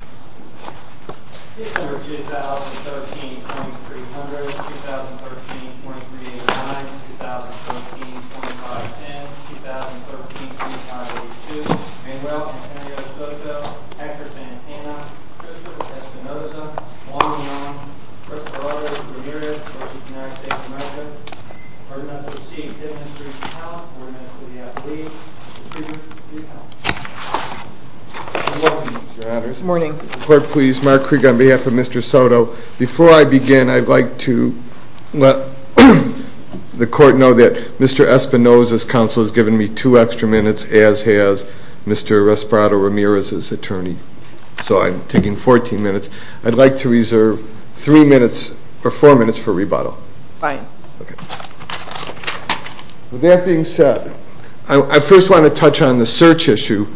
Good afternoon Mr. Adams, Good morning Mr.ators Before I begin I'd like to let the court know that Mr. Espinosa's counsel has given me two extra minutes as has Mr. Esperado-Ramirez's attorney so I'm taking 14 minutes I'd like to reserve three minutes or four minutes for rebuttal. With that being said I first want to touch on the search issue.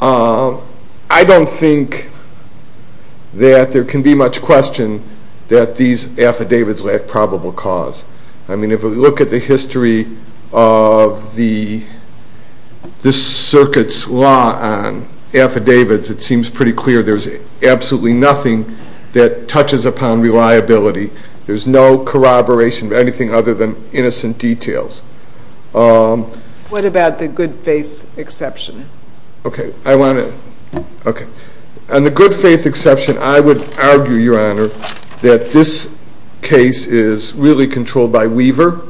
I don't think that there can be much question that these affidavits lack probable cause. I mean if we look at the history of the circuit's law on affidavits it seems pretty clear there's absolutely nothing that touches upon reliability. There's no corroboration of anything other than innocent details. What about the good faith exception? On the good faith exception I would argue your honor that this case is really controlled by Weaver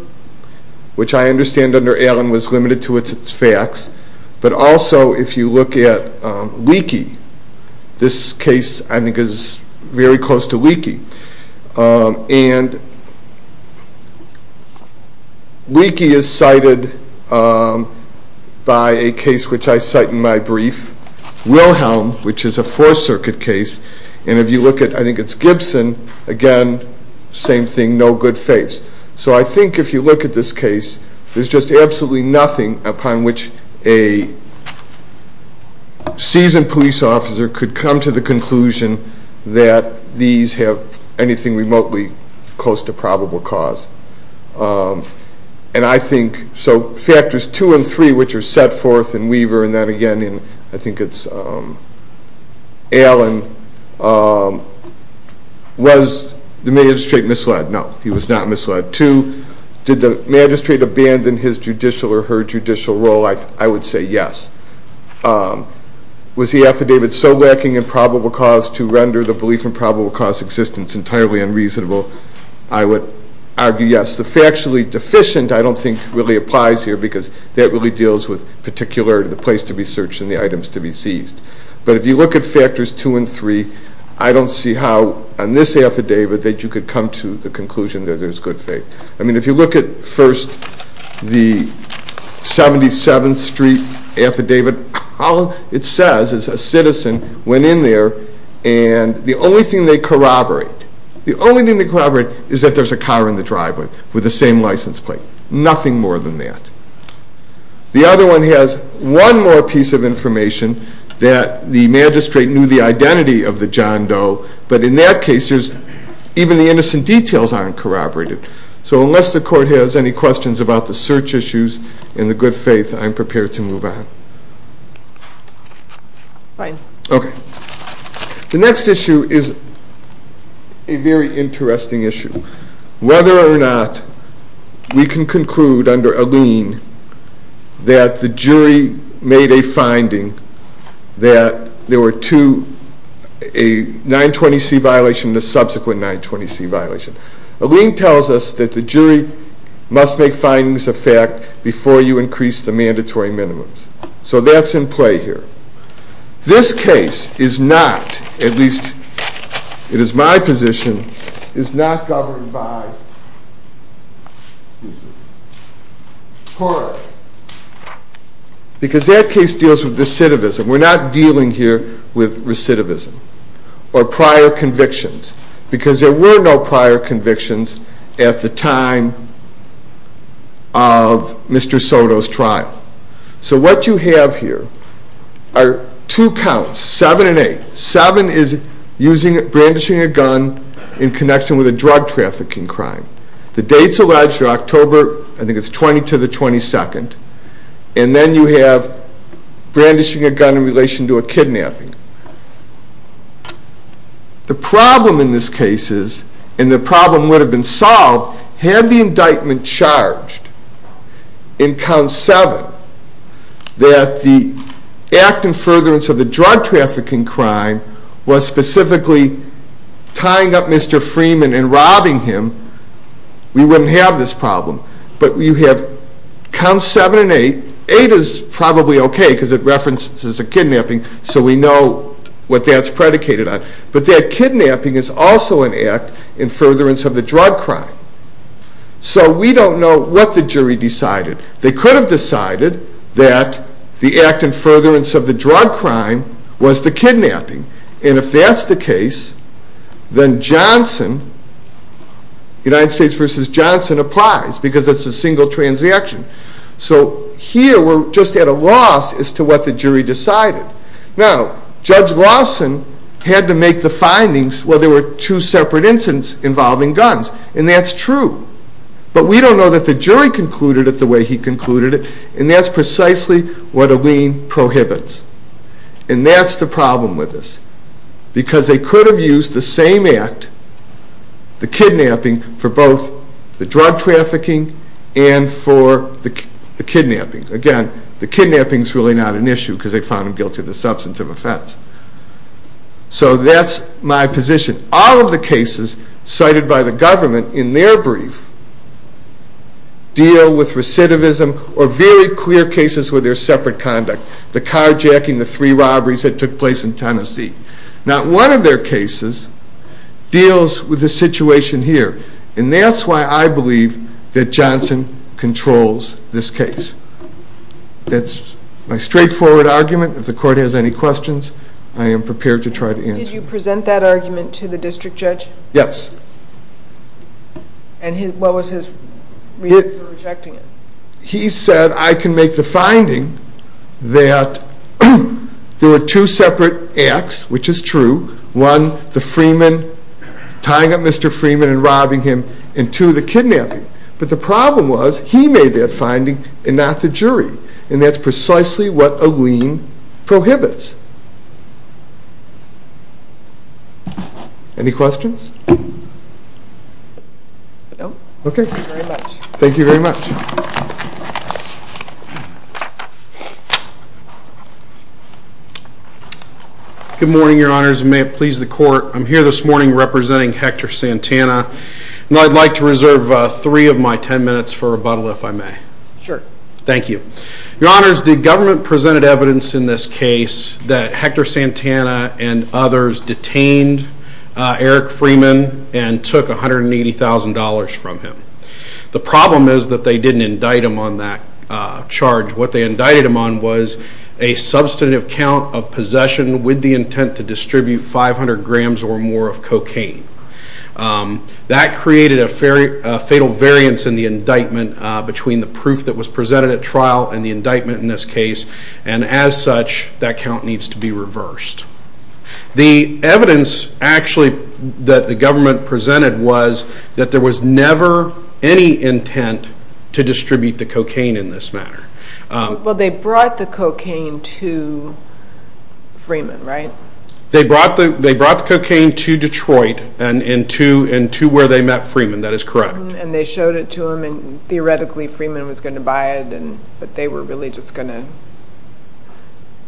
which I understand under Allen was limited to its facts but also if you look at Leakey this case I think is very close to Leakey and Leakey is cited by a case which I cite in my brief Wilhelm which is a fourth circuit case and if you look at I think it's Gibson again same thing no good faith so I think if you look at this case there's just absolutely nothing upon which a seasoned police officer could come to the conclusion that these have anything remotely close to probable cause and I think so factors two and three which are set forth in Weaver and then again I think it's Allen was the magistrate misled? No he was not misled. Two did the magistrate abandon his judicial or her judicial role? I would say yes. Was he affidavit so lacking in probable cause to render the belief in probable cause existence entirely unreasonable? I would argue yes. The factually deficient I don't think really applies here because that really deals with particular the place to be searched and the items to be seized but if you look at factors two and three I don't see how on this affidavit that you could come to the conclusion that there's good faith. I mean if you look at first the 77th Street affidavit all it says is a citizen went in there and the only thing they corroborate the only thing they corroborate is that there's a car in the driveway with the same license plate nothing more than that. The other one has one more piece of information that the magistrate knew the identity of the So unless the court has any questions about the search issues and the good faith I'm prepared to move on. The next issue is a very interesting issue whether or not we can conclude under a lien that the jury made a finding that there were two a 920C violation and a subsequent 920C violation. A lien tells us that the jury must make findings of fact before you increase the mandatory minimums so that's in play here. This case is not at least it is my position is not governed by court because that case deals with recidivism we're not dealing here with recidivism or prior convictions because there were no prior convictions at the time of Mr. Soto's trial. So what you have here are two counts 7 and 8 7 is using brandishing a gun in connection with a drug trafficking crime the dates are October 20 to the 22nd and then you have brandishing a gun in relation to a kidnapping. The problem in this case is and the problem would have been solved had the indictment charged in count 7 that the act in furtherance of the drug trafficking crime was specifically tying up Mr. Freeman and robbing him we wouldn't have this problem but you have count 7 and 8 is probably okay because it references a kidnapping so we know what that's predicated on but that kidnapping is also an act in furtherance of the drug crime. So we don't know what the jury decided they could have decided that the act in furtherance of the drug crime was the kidnapping and if that's the case then Johnson United States v. Johnson applies because it's a single transaction so here we're just at a loss as to what the jury decided. Now Judge Lawson had to make the findings where there were two separate incidents involving guns and that's true but we don't know that the jury concluded it the way he concluded it and that's precisely what a lien prohibits and that's the problem with this because they could have used the same act, the kidnapping, for both the drug trafficking and for the kidnapping. Again, the kidnapping is really not an issue because they found him guilty of a substance of offense. So that's my position. All of the cases cited by the government in their brief deal with recidivism or very clear cases where there's separate conduct. The carjacking, the three robberies that took place in Tennessee. Not one of their cases deals with the situation here and that's why I believe that Johnson controls this case. It's a straightforward argument. If the court has any questions I am prepared to try to answer. Did you present that argument to the district judge? Yes. And what was his reaction? He said I can make the finding that there were two separate acts, which is true, one the Freeman, tying up Mr. Freeman and robbing him, and two the kidnapping but the problem was he made that finding and not the jury and that's precisely what a lien prohibits. Any questions? No. Okay. Thank you very much. Good morning, your honors. May it please the court, I'm here this morning representing Hector Santana and I'd like to reserve three of my ten minutes for rebuttal if I may. Sure. Thank you. Your honors, the government presented evidence in this case that Hector Santana and others detained Eric Freeman and took $180,000 from him. The problem is that they didn't indict him on that charge. What they indicted him on was a substantive count of possession with the intent to distribute 500 grams or more of cocaine. That created a fatal variance in the indictment between the proof that was presented at trial and the indictment in this case and as such that count needs to be reversed. The evidence actually that the government presented was that there was never any intent to distribute the cocaine in this matter. Well, they brought the cocaine to Freeman, right? They brought the cocaine to Detroit and to where they met Freeman. That is correct. And they showed it to him and theoretically Freeman was going to buy it but they were really just going to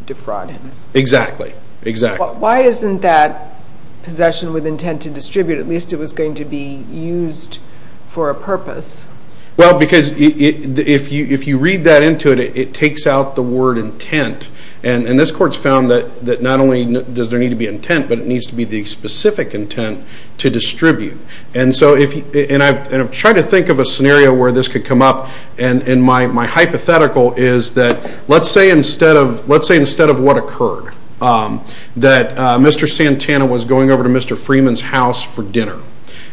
defraud him. Exactly. Why isn't that possession with intent to distribute, at least it was going to be used for a purpose? Well, because if you read that into it, it takes out the word intent and this court's found that not only does there need to be intent but it needs to be the specific intent to distribute and I've tried to think of a scenario where this could come up and my hypothetical is that let's say instead of what occurred, that Mr. Santana was going over to Mr. Freeman's house for dinner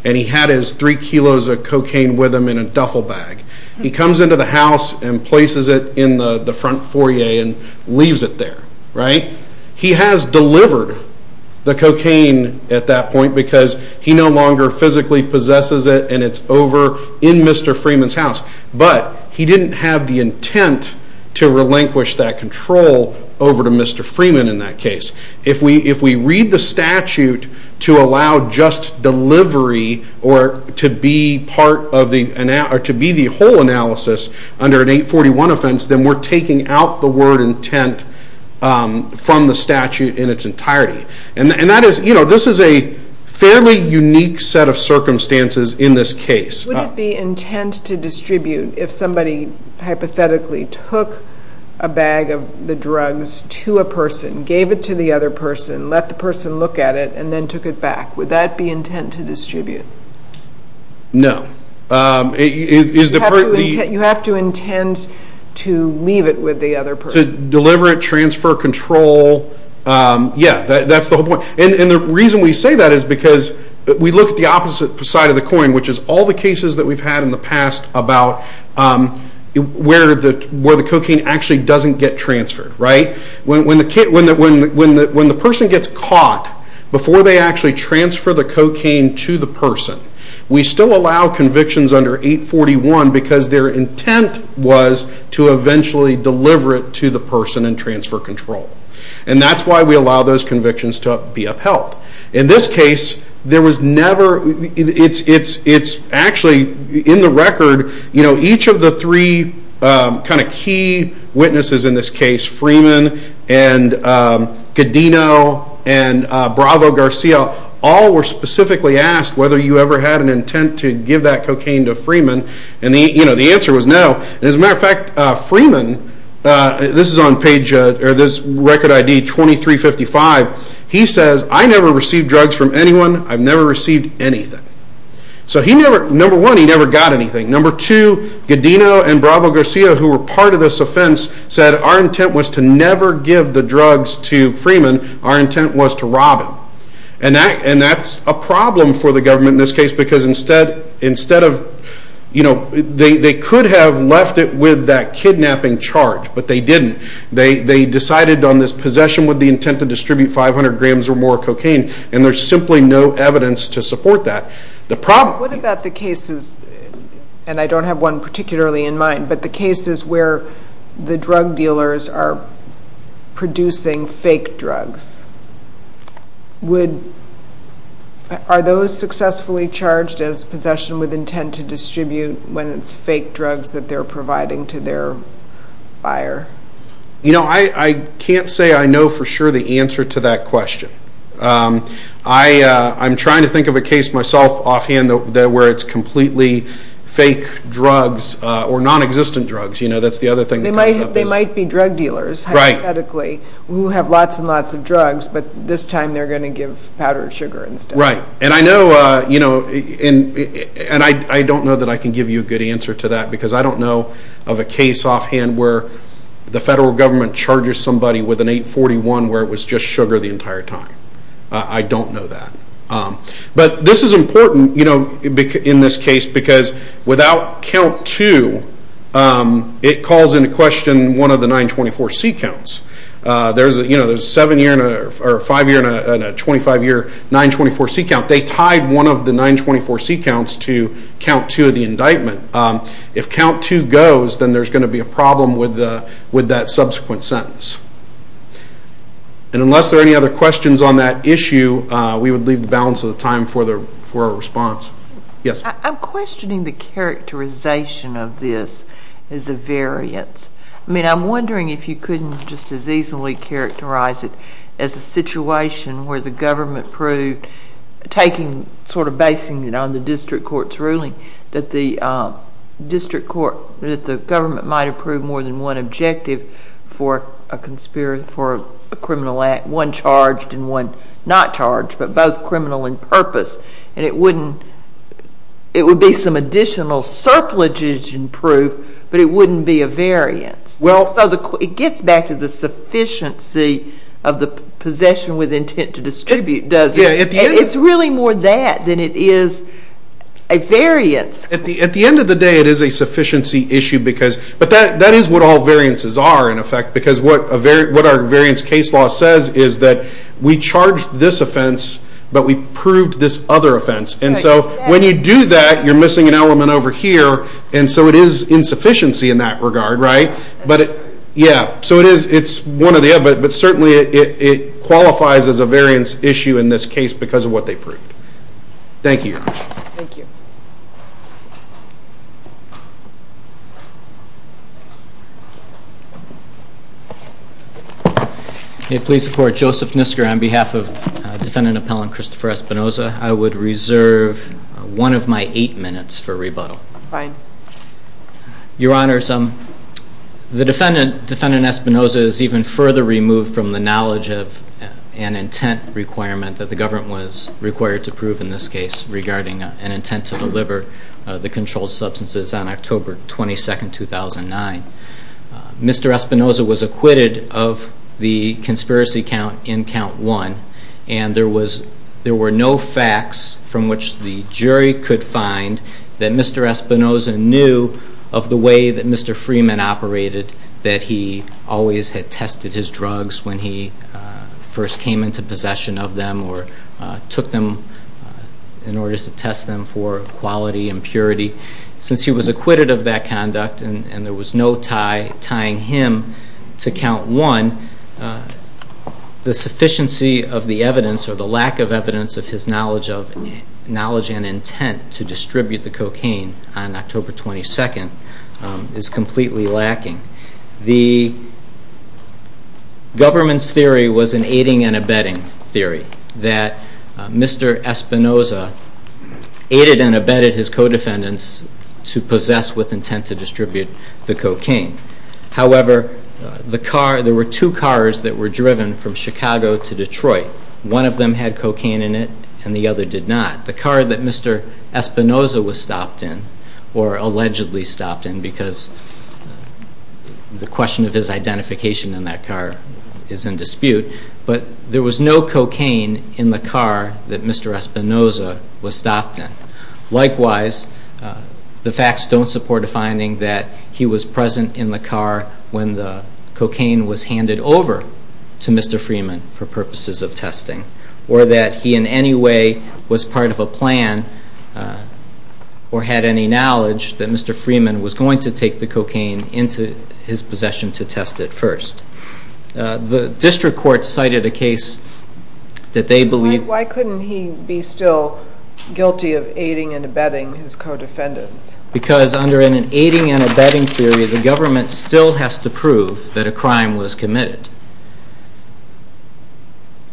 and he had his three kilos of cocaine with him in a duffel bag. He comes into the house and places it in the front foyer and leaves it there, right? He has delivered the cocaine at that point because he no longer physically possesses it and it's over in Mr. Freeman's house but he didn't have the intent to relinquish that control over to Mr. Freeman in that case. If we read the statute to allow just delivery or to be the whole analysis under an 841 offense, then we're taking out the word intent from the statute in its entirety. This is a fairly unique set of circumstances in this case. Would it be intent to distribute if somebody hypothetically took a bag of the drugs to a person, gave it to the other person, let the person look at it and then took it back? Would that be intent to distribute? No. You have to intend to leave it with the other person. To deliver it, transfer control, yeah, that's the whole point. And the reason we say that is because we look at the opposite side of the coin, which is all the cases that we've had in the past about where the cocaine actually doesn't get transferred. When the person gets caught, before they actually transfer the cocaine to the person, we still allow convictions under 841 because their intent was to eventually deliver it to the person and transfer control. And that's why we allow those convictions to be upheld. In this case, there was never, it's actually in the record, each of the three kind of key witnesses in this case, Freeman and Codino and Bravo Garcia, all were specifically asked whether you ever had an intent to give that cocaine to Freeman, and the answer was no. As a matter of fact, Freeman, this is on page, or this record ID 2355, he says, I never received drugs from anyone, I've never received anything. So he never, number one, he never got anything. Number two, Codino and Bravo Garcia, who were part of this offense, said our intent was to never give the drugs to Freeman, our intent was to rob him. And that's a problem for the government in this case, because instead of, you know, they could have left it with that kidnapping charge, but they didn't. They decided on this possession with the intent to distribute 500 grams or more of cocaine, and there's simply no evidence to support that. The problem... What about the cases, and I don't have one particularly in mind, but the cases where the drug dealers are producing fake drugs, are those successfully charged as possession with intent to distribute when it's fake drugs that they're providing to their buyer? You know, I can't say I know for sure the answer to that question. I'm trying to think of a case myself offhand where it's completely fake drugs, or nonexistent drugs, you know, that's the other thing. They might be drug dealers, hypothetically, who have lots and lots of drugs, but this time they're going to give powdered sugar instead. Right. And I know, you know, and I don't know that I can give you a good answer to that, because I don't know of a case offhand where the federal government charges somebody with an 841 where it was just sugar the entire time. I don't know that. But this is important, you know, in this case, because without count two, it calls into question one of the 924C counts. There's a, you know, there's a seven-year, or a five-year, and a 25-year 924C count. They tied one of the 924C counts to count two of the indictment. If count two goes, then there's going to be a problem with that subsequent sentence. And unless there are any other questions on that issue, we would leave the balance of the time for a response. Yes? I'm questioning the characterization of this as a variance. I mean, I'm wondering if you couldn't just as easily characterize it as a situation where the government proved, taking, sort of basing it on the district court's ruling, that the government might have proved more than one objective for a criminal act, one charged and one not charged, but both criminal and purpose, and it wouldn't, it would be some additional surpluses in proof, but it wouldn't be a variance. Well, so it gets back to the sufficiency of the possession with intent to distribute, doesn't it? It's really more that than it is a variance. At the end of the day, it is a sufficiency issue because, but that is what all variances are in effect, because what our variance case law says is that we charged this offense, but we proved this other offense. And so when you do that, you're missing an element over here, and so it is insufficiency in that regard, right? But yeah, so it's one or the other, but certainly it qualifies as a variance issue in this case because of what they proved. Thank you. Thank you. Please support. Joseph Nisgar on behalf of Defendant Appellant Christopher Espinosa, I would reserve one of my eight minutes for rebuttal. Fine. Your Honors, the Defendant, Defendant Espinoza is even further removed from the knowledge of an intent requirement that the government was required to prove in this case regarding an intent to deliver the controlled substances on October 22, 2009. Mr. Espinoza was acquitted of the conspiracy count in count one and there were no facts from which the jury could find that Mr. Espinoza knew of the way that Mr. Freeman operated that he always had tested his drugs when he first came into possession of them or took them in order to test them for quality and purity. Since he was acquitted of that conduct and there was no tie tying him to count one, the sufficiency of the evidence or the lack of evidence of his knowledge and intent to distribute the cocaine on October 22 is completely lacking. The government's theory was an aiding and abetting theory that Mr. Espinoza aided and abetted his co-defendants to possess with intent to distribute the cocaine. However, there were two cars that were driven from Chicago to Detroit. One of them had cocaine in it and the other did not. The car that Mr. Espinoza was stopped in or allegedly stopped in because the question of his identification in that car is in dispute, but there was no cocaine in the car that Mr. Espinoza was stopped in. Likewise, the facts don't support a finding that he was present in the car when the cocaine was handed over to Mr. Freeman for purposes of testing or that he in any way was part of a plan or had any knowledge that Mr. Freeman was going to take the cocaine into his possession to test it first. The district court cited a case that they believe... Why couldn't he be still guilty of aiding and abetting his co-defendants? Because under an aiding and abetting theory, the government still has to prove that a crime was committed.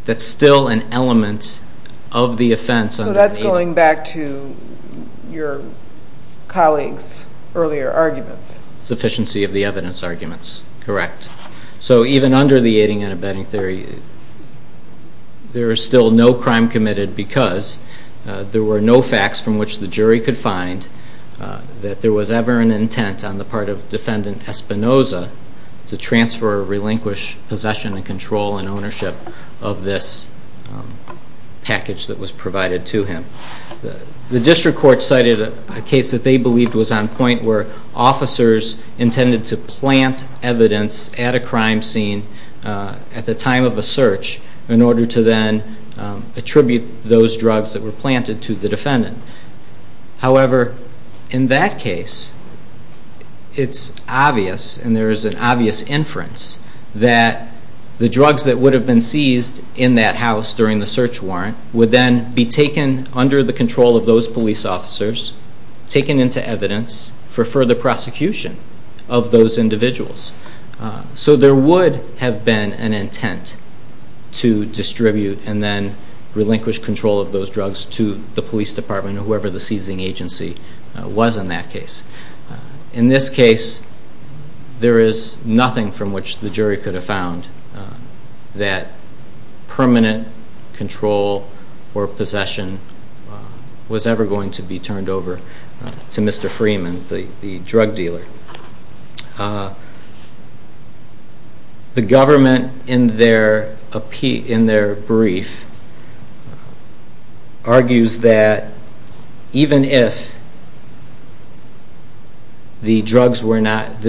That's still an element of the offense... So that's going back to your colleague's earlier argument. Sufficiency of the evidence arguments, correct. So even under the aiding and abetting theory, there is still no crime committed because there were no facts from which the jury could find that there was ever an intent on the relinquish possession and control and ownership of this package that was provided to him. The district court cited a case that they believed was on point where officers intended to plant evidence at a crime scene at the time of a search in order to then attribute those drugs that were planted to the defendant. However, in that case, it's obvious and there's an obvious inference that the drugs that would have been seized in that house during the search warrant would then be taken under the control of those police officers, taken into evidence for further prosecution of those individuals. So there would have been an intent to distribute and then relinquish control of those drugs to the police department or whoever the seizing agency was in that case. In this case, there is nothing from which the jury could have found that permanent control or possession was ever going to be turned over to Mr. Freeman, the drug dealer. The government, in their brief, argues that even if the drugs were not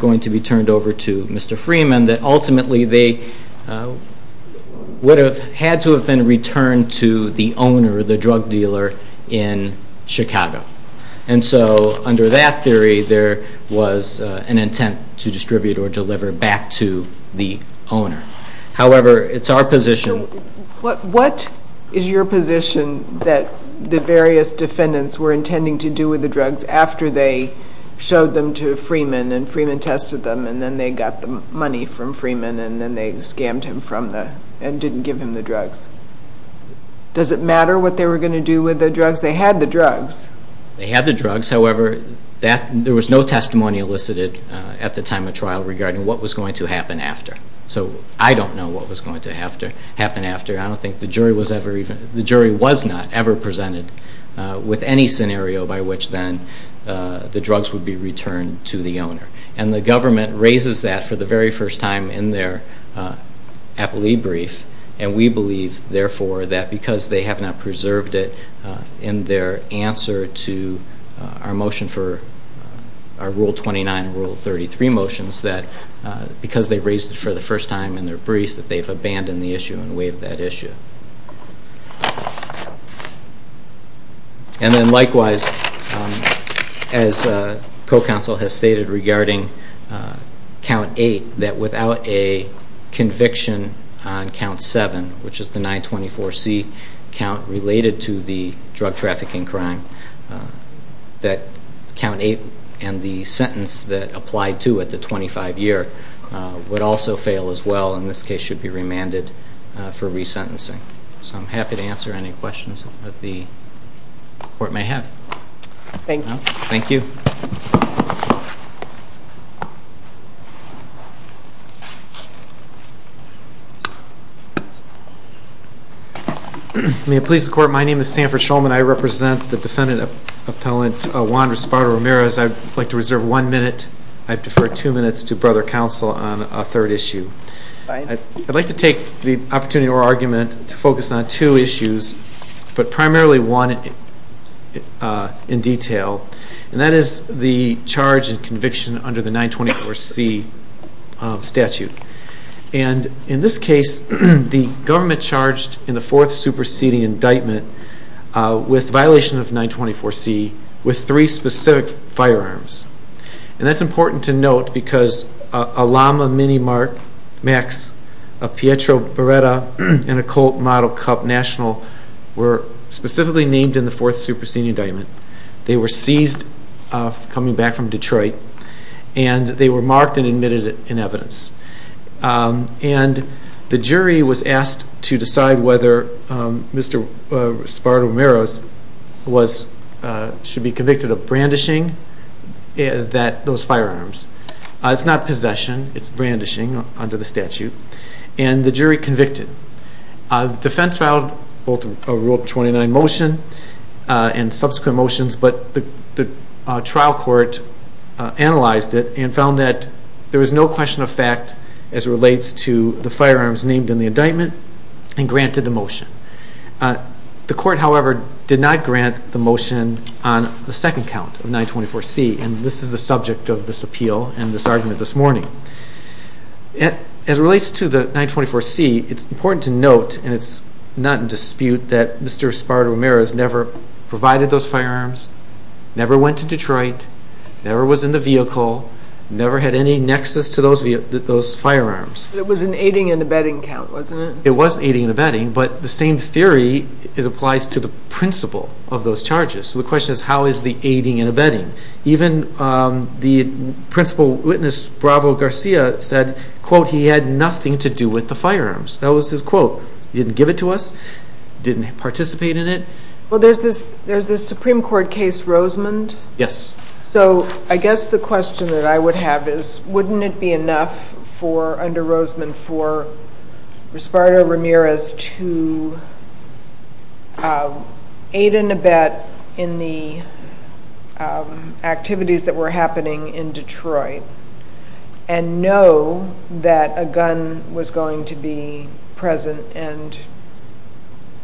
going to be turned over to Mr. Freeman, that ultimately they would have had to have been returned to the owner, the drug dealer, in Chicago. And so, under that theory, there was an intent to distribute or deliver back to the owner. However, it's our position... What is your position that the various defendants were intending to do with the drugs after they showed them to Freeman and Freeman tested them and then they got the money from Freeman and then they scammed him from the, and didn't give him the drugs? Does it matter what they were going to do with the drugs? They had the drugs. They had the drugs. However, there was no testimony elicited at the time of trial regarding what was going to happen after. So, I don't know what was going to happen after, and I don't think the jury was ever even... The jury was not ever presented with any scenario by which then the drugs would be returned to the owner. And the government raises that for the very first time in their appellee brief, and we assume their answer to our motion for our Rule 29 and Rule 33 motions, that because they raised it for the first time in their brief, that they've abandoned the issue and waived that issue. And then likewise, as co-counsel has stated regarding Count 8, that without a conviction on Count 7, which is the 924C count related to the drug trafficking crime, that Count 8 and the sentence that applied to it, the 25-year, would also fail as well, and in this case should be remanded for resentencing. So, I'm happy to answer any questions that the court may have. Thank you. Thank you. May it please the court, my name is Sanford Shulman, I represent the defendant appellant Juan Espada-Ramirez. I'd like to reserve one minute, I defer two minutes to brother counsel on a third issue. I'd like to take the opportunity of our argument to focus on two issues, but primarily one in detail, and that is the charge and conviction under the 924C statute. And in this case, the government charged in the fourth superseding indictment with violation of 924C with three specific firearms. And that's important to note because a Lama Mini Max, a Pietro Beretta, and a Colt Model Cup National were specifically named in the fourth superseding indictment. They were seized coming back from Detroit, and they were marked and admitted in evidence. And the jury was asked to decide whether Mr. Espada-Ramirez should be convicted of brandishing those firearms. It's not possession, it's brandishing under the statute, and the jury convicted. The defense filed both a Rule 29 motion and subsequent motions, but the trial court analyzed it and found that there was no question of fact as it relates to the firearms named in the indictment and granted the motion. The court, however, did not grant the motion on the second count of 924C, and this is the As it relates to the 924C, it's important to note and it's not in dispute that Mr. Espada-Ramirez never provided those firearms, never went to Detroit, never was in the vehicle, never had any nexus to those firearms. It was an aiding and abetting count, wasn't it? It was aiding and abetting, but the same theory applies to the principle of those charges. The question is how is the aiding and abetting? Even the principle witness, Bravo Garcia, said, quote, he had nothing to do with the firearms. That was his quote. He didn't give it to us, didn't participate in it. Well, there's this Supreme Court case, Rosemond. Yes. So, I guess the question that I would have is, wouldn't it be enough for, under Rosemond, for Espada-Ramirez to aid and abet in the activities that were happening in Detroit and know that a gun was going to be present and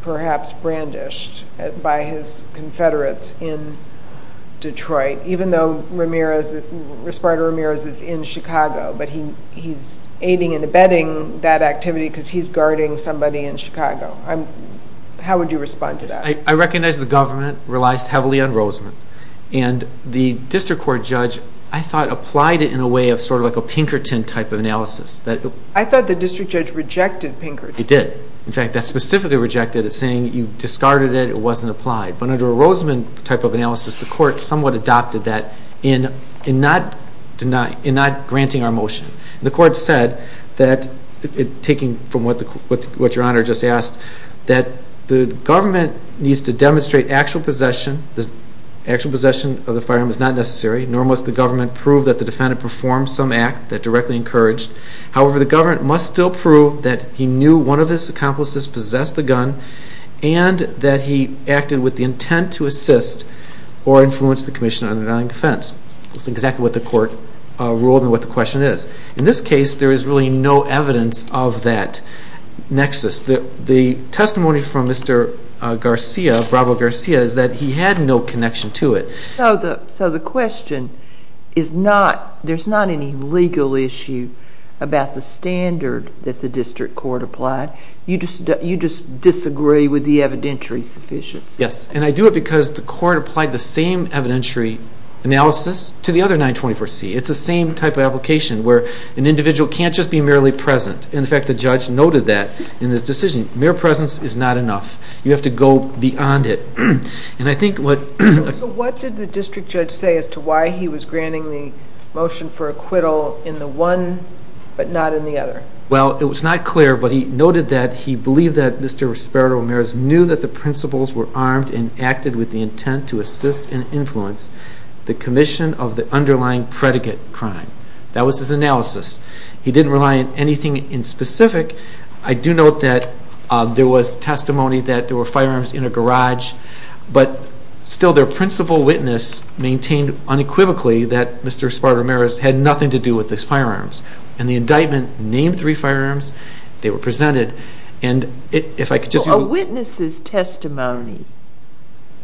perhaps brandished by his confederates in Detroit, even though Espada-Ramirez is in Chicago, but he's aiding and abetting that activity because he's guarding somebody in Chicago. How would you respond to that? I recognize the government relies heavily on Rosemond, and the district court judge, I thought, applied it in a way of sort of like a Pinkerton type of analysis. I thought the district judge rejected Pinkerton. He did. In fact, that specifically rejected it, saying you discarded it, it wasn't applied. But under a Rosemond type of analysis, the court somewhat adopted that in not granting our motion. The court said that, taking from what Your Honor just asked, that the government needs to demonstrate actual possession. The actual possession of the firearm is not necessary, nor must the government prove that the defendant performed some act that directly encouraged. However, the government must still prove that he knew one of his accomplices possessed the intent to assist or influence the commission on an underlying defense. That's exactly what the court ruled and what the question is. In this case, there is really no evidence of that nexus. The testimony from Mr. Garcia, Bravo Garcia, is that he had no connection to it. So the question is not, there's not any legal issue about the standard that the district court applied. You just disagree with the evidentiary sufficient. Yes, and I do it because the court applied the same evidentiary analysis to the other 924C. It's the same type of application, where an individual can't just be merely present. In fact, the judge noted that in his decision. Mere presence is not enough. You have to go beyond it. And I think what... So what did the district judge say as to why he was granting the motion for acquittal in the one but not in the other? Well, it was not clear, but he noted that he believed that Mr. Risperidu-Ramirez knew that the principals were armed and acted with the intent to assist and influence the commission of the underlying predicate crime. That was his analysis. He didn't rely on anything in specific. I do note that there was testimony that there were firearms in a garage, but still their principal witness maintained unequivocally that Mr. Risperidu-Ramirez had nothing to do with these firearms. And the indictment named three firearms, they were presented, and if I could just... The witness's testimony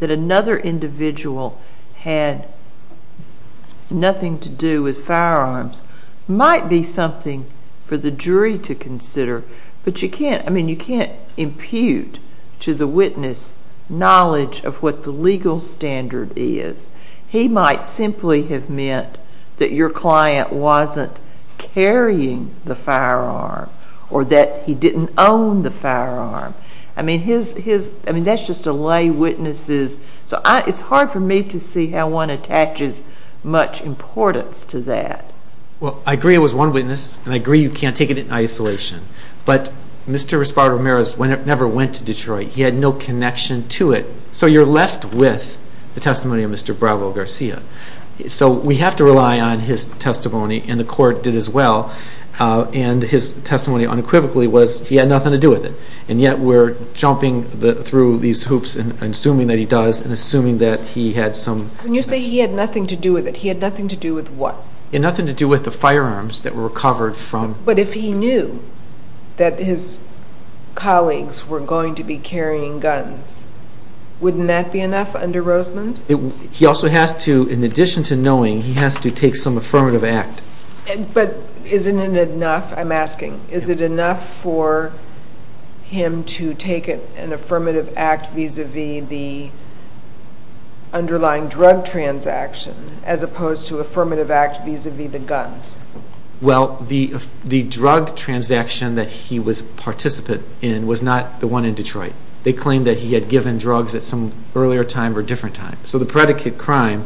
that another individual had nothing to do with firearms might be something for the jury to consider, but you can't impute to the witness knowledge of what the legal standard is. He might simply have meant that your client wasn't carrying the firearm or that he didn't own the firearm. I mean, that's just a lay witness's... So it's hard for me to see how one attaches much importance to that. Well, I agree it was one witness, and I agree you can't take it in isolation, but Mr. Risperidu-Ramirez never went to Detroit. He had no connection to it. So you're left with the testimony of Mr. Bravo Garcia. So we have to rely on his testimony, and the court did as well, and his testimony unequivocally was he had nothing to do with it. And yet we're jumping through these hoops and assuming that he does, and assuming that he had some... When you say he had nothing to do with it, he had nothing to do with what? He had nothing to do with the firearms that were recovered from... But if he knew that his colleagues were going to be carrying guns, wouldn't that be enough under Rosemond? He also has to, in addition to knowing, he has to take some affirmative act. But isn't it enough, I'm asking? Is it enough for him to take an affirmative act vis-a-vis the underlying drug transaction as opposed to affirmative act vis-a-vis the guns? Well, the drug transaction that he was a participant in was not the one in Detroit. They claimed that he had given drugs at some earlier time or different time. So the predicate crime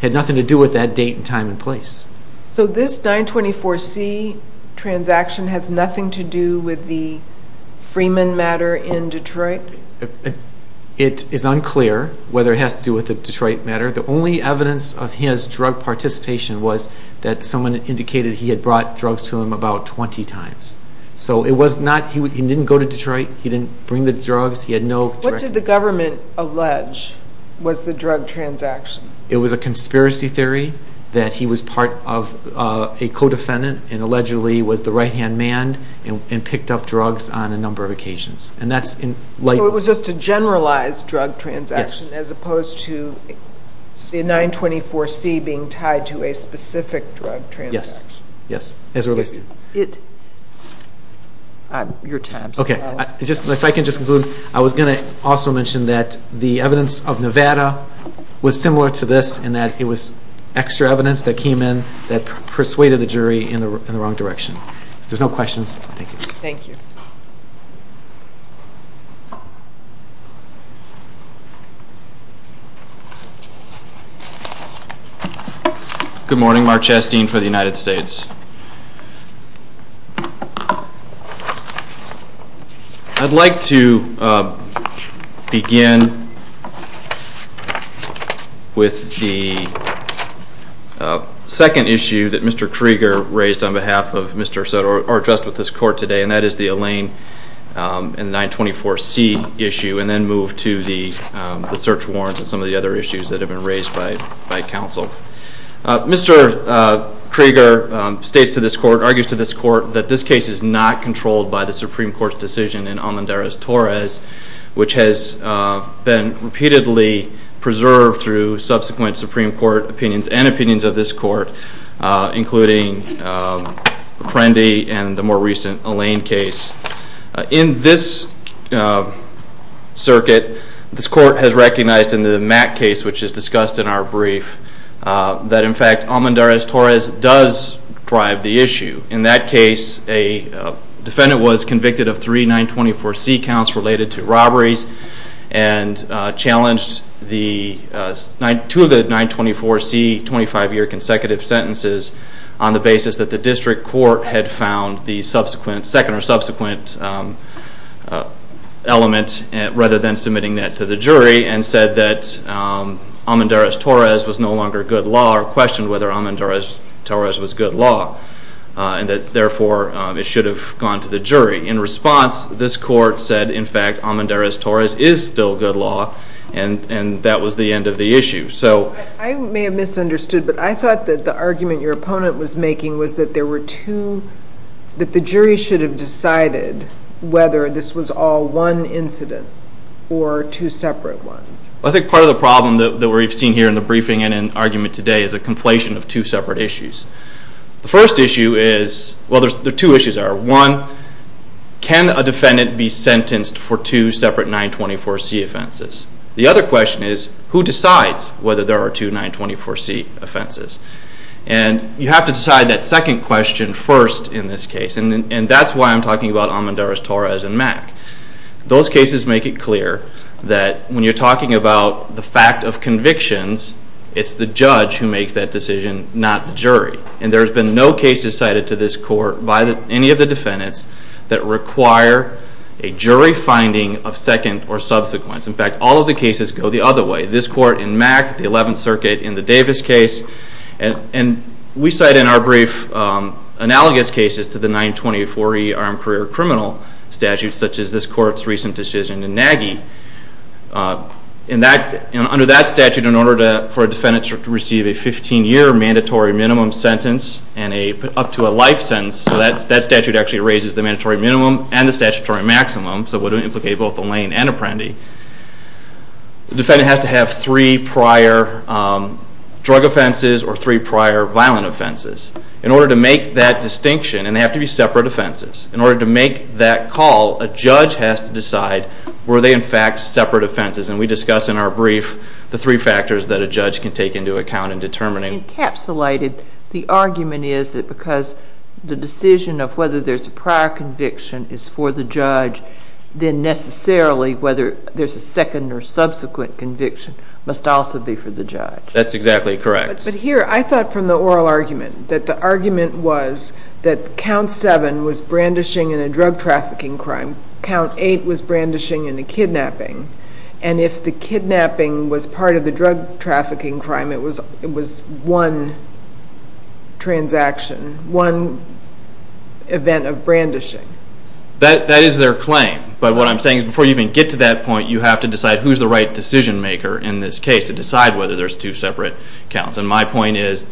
had nothing to do with that date and time and place. So this 924C transaction has nothing to do with the Freeman matter in Detroit? It is unclear whether it has to do with the Detroit matter. The only evidence of his drug participation was that someone indicated he had brought drugs to him about 20 times. So it was not... He didn't go to Detroit. He didn't bring the drugs. He had no... What did the government allege was the drug transaction? It was a conspiracy theory that he was part of a co-defendant and allegedly was the right-hand man and picked up drugs on a number of occasions. And that's in light... So it was just a generalized drug transaction as opposed to the 924C being tied to a specific drug transaction? Yes. Yes. As a... Your time's up. Okay. If I can just conclude. I was going to also mention that the evidence of Nevada was similar to this in that it was extra evidence that came in that persuaded the jury in the wrong direction. If there's no questions, I'll take it. Thank you. Good morning. Mark Chastain for the United States. I'd like to begin with the second issue that Mr. Krieger raised on behalf of Mr. Sutter or addressed with this court today, and that is the Elaine and 924C issue, and then move to the search warrants and some of the other issues that have been raised by counsel. Mr. Krieger states to this court, argues to this court, that this case is not controlled by the Supreme Court's decision in Almendarez-Torres, which has been repeatedly preserved through subsequent Supreme Court opinions and opinions of this court, including Crendy and the more recent Elaine case. In this circuit, this court has recognized in the Mack case, which is discussed in our brief, that in fact, Almendarez-Torres does drive the issue. In that case, a defendant was convicted of three 924C counts related to robberies and challenged two of the 924C 25-year consecutive sentences on the basis that the district court had found the second or subsequent element, rather than submitting that to the jury, and said that Almendarez-Torres was no longer good law, or questioned whether Almendarez-Torres was good law, and that therefore, it should have gone to the jury. In response, this court said, in fact, Almendarez-Torres is still good law, and that was the end of the issue. I may have misunderstood, but I thought that the argument your opponent was making was that there were two, that the jury should have decided whether this was all one incident or two separate ones. I think part of the problem that we've seen here in the briefing and in argument today is a conflation of two separate issues. The first issue is, well, there are two issues there. One, can a defendant be sentenced for two separate 924C offenses? The other question is, who decides whether there are two 924C offenses? And you have to decide that second question first in this case, and that's why I'm talking about Almendarez-Torres and Mack. Those cases make it clear that when you're talking about the fact of convictions, it's the judge who makes that decision, not the jury. And there's been no cases cited to this court by any of the defendants that require a jury finding of second or subsequent. In fact, all of the cases go the other way. This court in Mack, the 11th Circuit, in the Davis case, and we cite in our brief analogous cases to the 924E armed career criminal statute, such as this court's recent decision in Nagy. Under that statute, in order for a defendant to receive a 15-year mandatory minimum sentence and up to a life sentence, so that statute actually raises the mandatory minimum and the statutory maximum, so it would implicate both Alain and Apprendi, the defendant has to have three prior drug offenses or three prior violent offenses. In order to make that distinction, and they have to be separate offenses, in order to make that call, a judge has to decide were they in fact separate offenses, and we discuss in our brief the three factors that a judge can take into account in determining. Encapsulated, the argument is that because the decision of whether there's a prior conviction is for the judge, then necessarily whether there's a second or subsequent conviction must also be for the judge. That's exactly correct. But here, I thought from the oral argument that the argument was that count 7 was brandishing in a drug trafficking crime, count 8 was brandishing in a kidnapping, and if the kidnapping was part of the drug trafficking crime, it was one transaction, one event of brandishing. That is their claim, but what I'm saying is before you even get to that point, you have to decide who's the right decision maker in this case to decide whether there's two separate counts, and my point is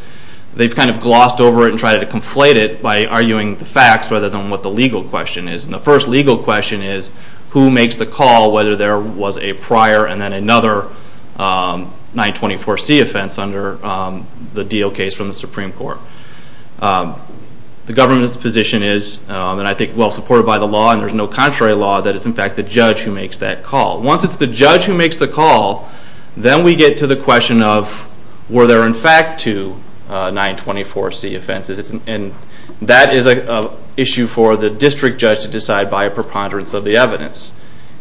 they've kind of glossed over it and tried to conflate it by arguing the facts rather than what the legal question is, and the first legal question is who makes the call whether there was a prior and then another 924C offense under the DO case from the Supreme Court. The government's position is, and I think well supported by the law, and there's no contrary law, that it's in fact the judge who makes that call. Once it's the judge who makes the call, then we get to the question of were there in fact two 924C offenses, and that is an issue for the district judge to decide by a preponderance of the evidence.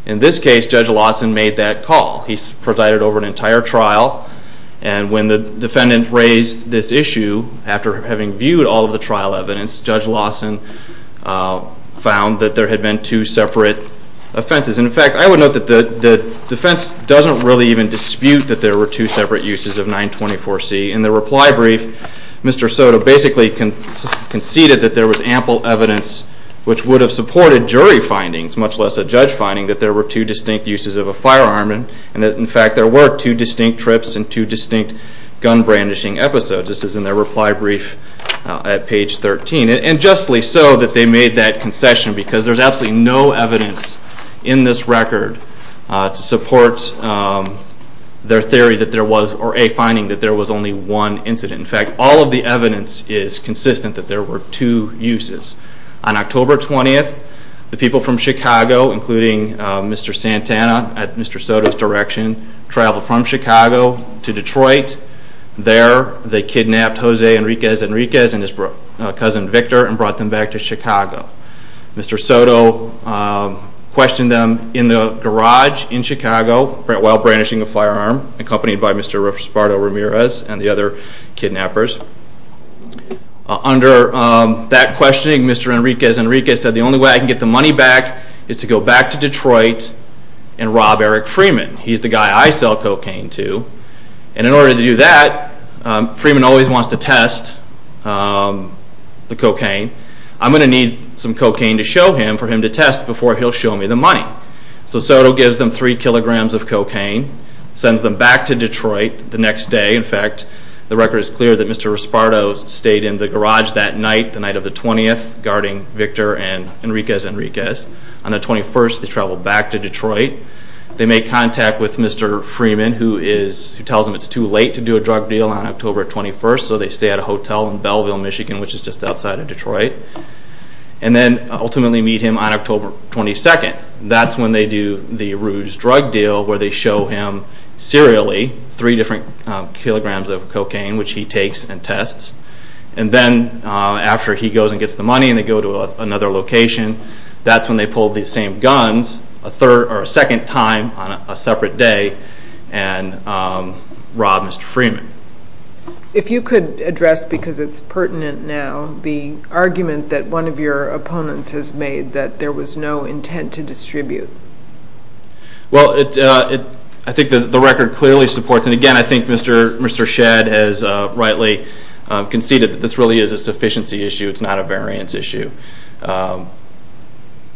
In this case, Judge Lawson made that call. He presided over an entire trial, and when the defendant raised this issue, after having viewed all of the trial evidence, Judge Lawson found that there had been two separate offenses. In fact, I would note that the defense doesn't really even dispute that there were two separate uses of 924C. In the reply brief, Mr. Soto basically conceded that there was ample evidence which would have supported jury findings, much less a judge finding, that there were two distinct uses of a firearm, and that in fact there were two distinct trips and two distinct gun brandishing episodes. This is in the reply brief at page 13, and justly so that they made that concession because there's absolutely no evidence in this record to support their theory that there was, or a finding, that there was only one incident. In fact, all of the evidence is consistent that there were two uses. On October 20th, the people from Chicago, including Mr. Santana at Mr. Soto's direction, traveled from Chicago to Detroit. There, they kidnapped Jose Enriquez Enriquez and his cousin Victor and brought them back to Chicago. Mr. Soto questioned them in the garage in Chicago while brandishing a firearm, accompanied by Mr. Esparto Ramirez and the other kidnappers. Under that questioning, Mr. Enriquez Enriquez said, the only way I can get the money back is to go back to Detroit and rob Eric Freeman. He's the guy I sell cocaine to, and in order to do that, Freeman always wants to test the cocaine. I'm going to need some cocaine to show him, for him to test, before he'll show me the money. So Soto gives them three kilograms of cocaine, sends them back to Detroit the next day. In fact, the record is clear that Mr. Esparto stayed in the garage that night, the night of the 20th, guarding Victor and Enriquez Enriquez. On the 21st, they traveled back to Detroit. They made contact with Mr. Freeman, who tells them it's too late to do a drug deal on October 21st, so they stay at a hotel in Belleville, Michigan, which is just outside of Detroit, and then ultimately meet him on October 22nd. That's when they do the ruse drug deal, where they show him serially three different kilograms of cocaine, which he takes and tests. And then after he goes and gets the money and they go to another location, that's when they pull the same guns a second time on a separate day, and rob Mr. Freeman. If you could address, because it's pertinent now, the argument that one of your opponents has made, that there was no intent to distribute. Well, I think the record clearly supports it. Again, I think Mr. Shedd has rightly conceded that this really is a sufficiency issue, it's not a variance issue.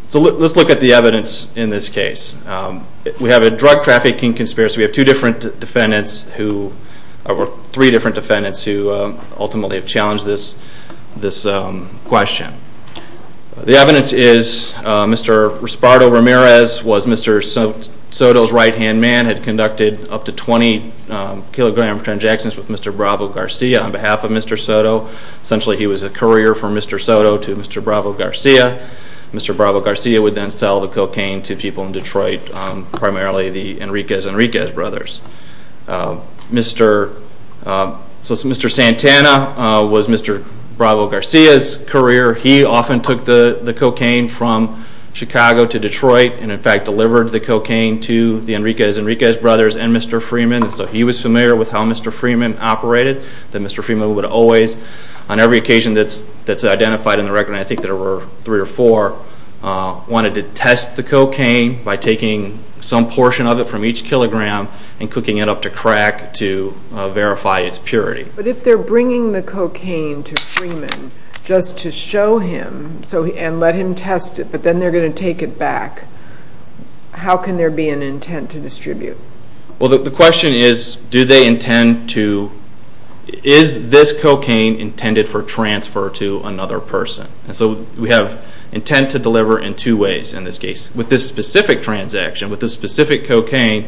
So let's look at the evidence in this case. We have a drug trafficking conspiracy, we have two different defendants who, or three different defendants who ultimately have challenged this question. The evidence is Mr. Rispardo Ramirez was Mr. Soto's right-hand man, had conducted up to 20 kilogram transactions with Mr. Bravo Garcia on behalf of Mr. Soto, essentially he was a courier from Mr. Soto to Mr. Bravo Garcia. Mr. Bravo Garcia would then sell the cocaine to people in Detroit, primarily the Enriquez Enriquez brothers. Mr. Santana was Mr. Bravo Garcia's courier, he often took the cocaine from Chicago to Detroit and in fact delivered the cocaine to the Enriquez Enriquez brothers and Mr. Freeman, so he was familiar with how Mr. Freeman operated, and Mr. Freeman would always, on every occasion that's identified in the record, and I think there were three or four, wanted to test the cocaine by taking some portion of it from each kilogram and cooking it up to crack to verify its purity. But if they're bringing the cocaine to Freeman just to show him and let him test it, but then they're going to take it back, how can there be an intent to distribute? Well, the question is, do they intend to, is this cocaine intended for transfer to another person? So we have intent to deliver in two ways in this case. With this specific transaction, with this specific cocaine,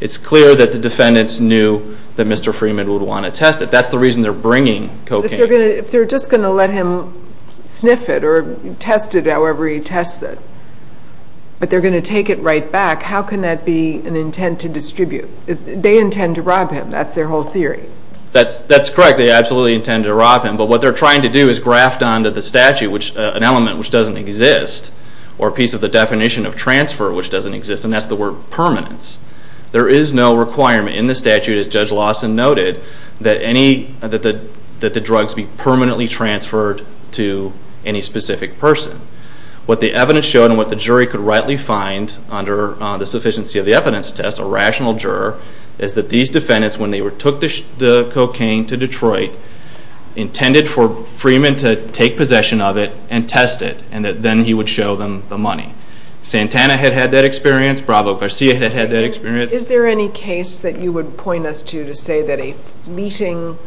it's clear that the defendants knew that Mr. Freeman would want to test it, that's the reason they're bringing cocaine. If they're just going to let him sniff it or test it however he tests it, but they're going to take it right back, how can that be an intent to distribute? They intend to rob him, that's their whole theory. That's correct, they absolutely intend to rob him, but what they're trying to do is graft onto the statute an element which doesn't exist, or a piece of the definition of transfer which doesn't exist, and that's the word permanence. There is no requirement in the statute, as Judge Lawson noted, that the drugs be permanently transferred to any specific person. What the evidence showed, and what the jury could rightly find under the sufficiency of the evidence test, a rational juror, is that these defendants, when they took the cocaine to Detroit, intended for Freeman to take possession of it and test it, and that then he would show them the money. Santana had had that experience, Bravo Garcia had had that experience. Is there any case that you would point us to, to say that a fleeting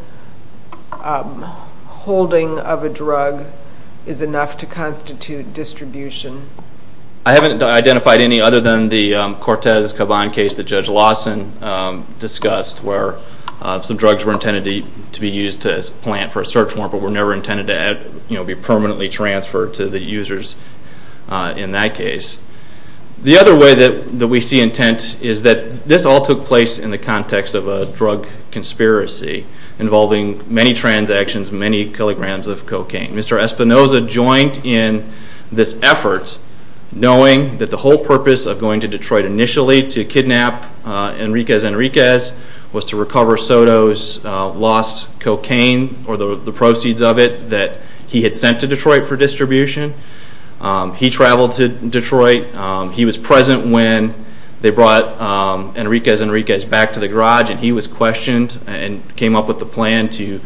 holding of a drug is enough to constitute distribution? I haven't identified any other than the Cortez-Caban case that Judge Lawson discussed, where some drugs were intended to be used to plant for a search warrant, but were never intended to be permanently transferred to the users in that case. The other way that we see intent is that this all took place in the context of a drug conspiracy involving many transactions, many kilograms of cocaine. Mr. Espinoza joined in this effort, knowing that the whole purpose of going to Detroit initially to kidnap Enriquez Enriquez was to recover Soto's lost cocaine, or the proceeds of it, that he had sent to Detroit for distribution. He traveled to Detroit. He was present when they brought Enriquez Enriquez back to the garage, and he was questioned and came up with a plan to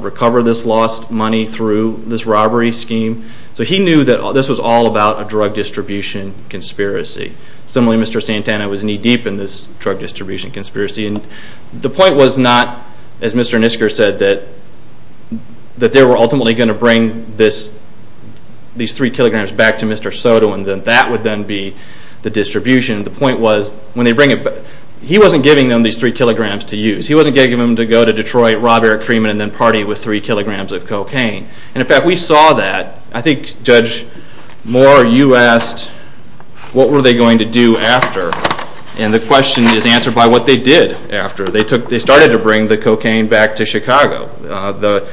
recover this lost money through this robbery scheme. He knew that this was all about a drug distribution conspiracy. Similarly, Mr. Santana was knee-deep in this drug distribution conspiracy. The point was not, as Mr. Nisker said, that they were ultimately going to bring these three kilograms back to Mr. Soto, and that would then be the distribution. The point was, he wasn't giving them these three kilograms to use. He wasn't getting them to go to Detroit, rob Eric Freeman, and then party with three kilograms of cocaine. In fact, we saw that. I think, Judge Moore, you asked what were they going to do after, and the question is answered by what they did after. They started to bring the cocaine back to Chicago.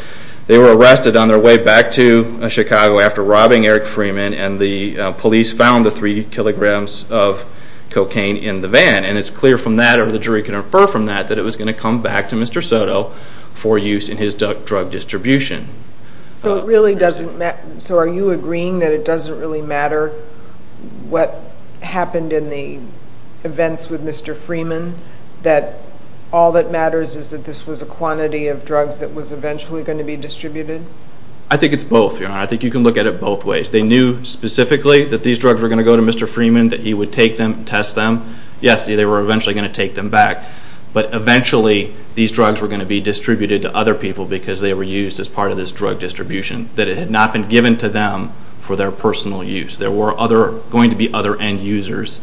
They were arrested on their way back to Chicago after robbing Eric Freeman, and the police found the three kilograms of cocaine in the van, and it's clear from that, or the jury can infer from that, that it was going to come back to Mr. Soto for use in his drug distribution. So, it really doesn't matter, so are you agreeing that it doesn't really matter what happened in the events with Mr. Freeman, that all that matters is that this was a quantity of drugs that was eventually going to be distributed? I think it's both. I think you can look at it both ways. They knew specifically that these drugs were going to go to Mr. Freeman, that he would take them and test them. Yes, they were eventually going to take them back, but eventually, these drugs were going to be distributed to other people because they were used as part of this drug distribution, that it had not been given to them for their personal use. There were going to be other end users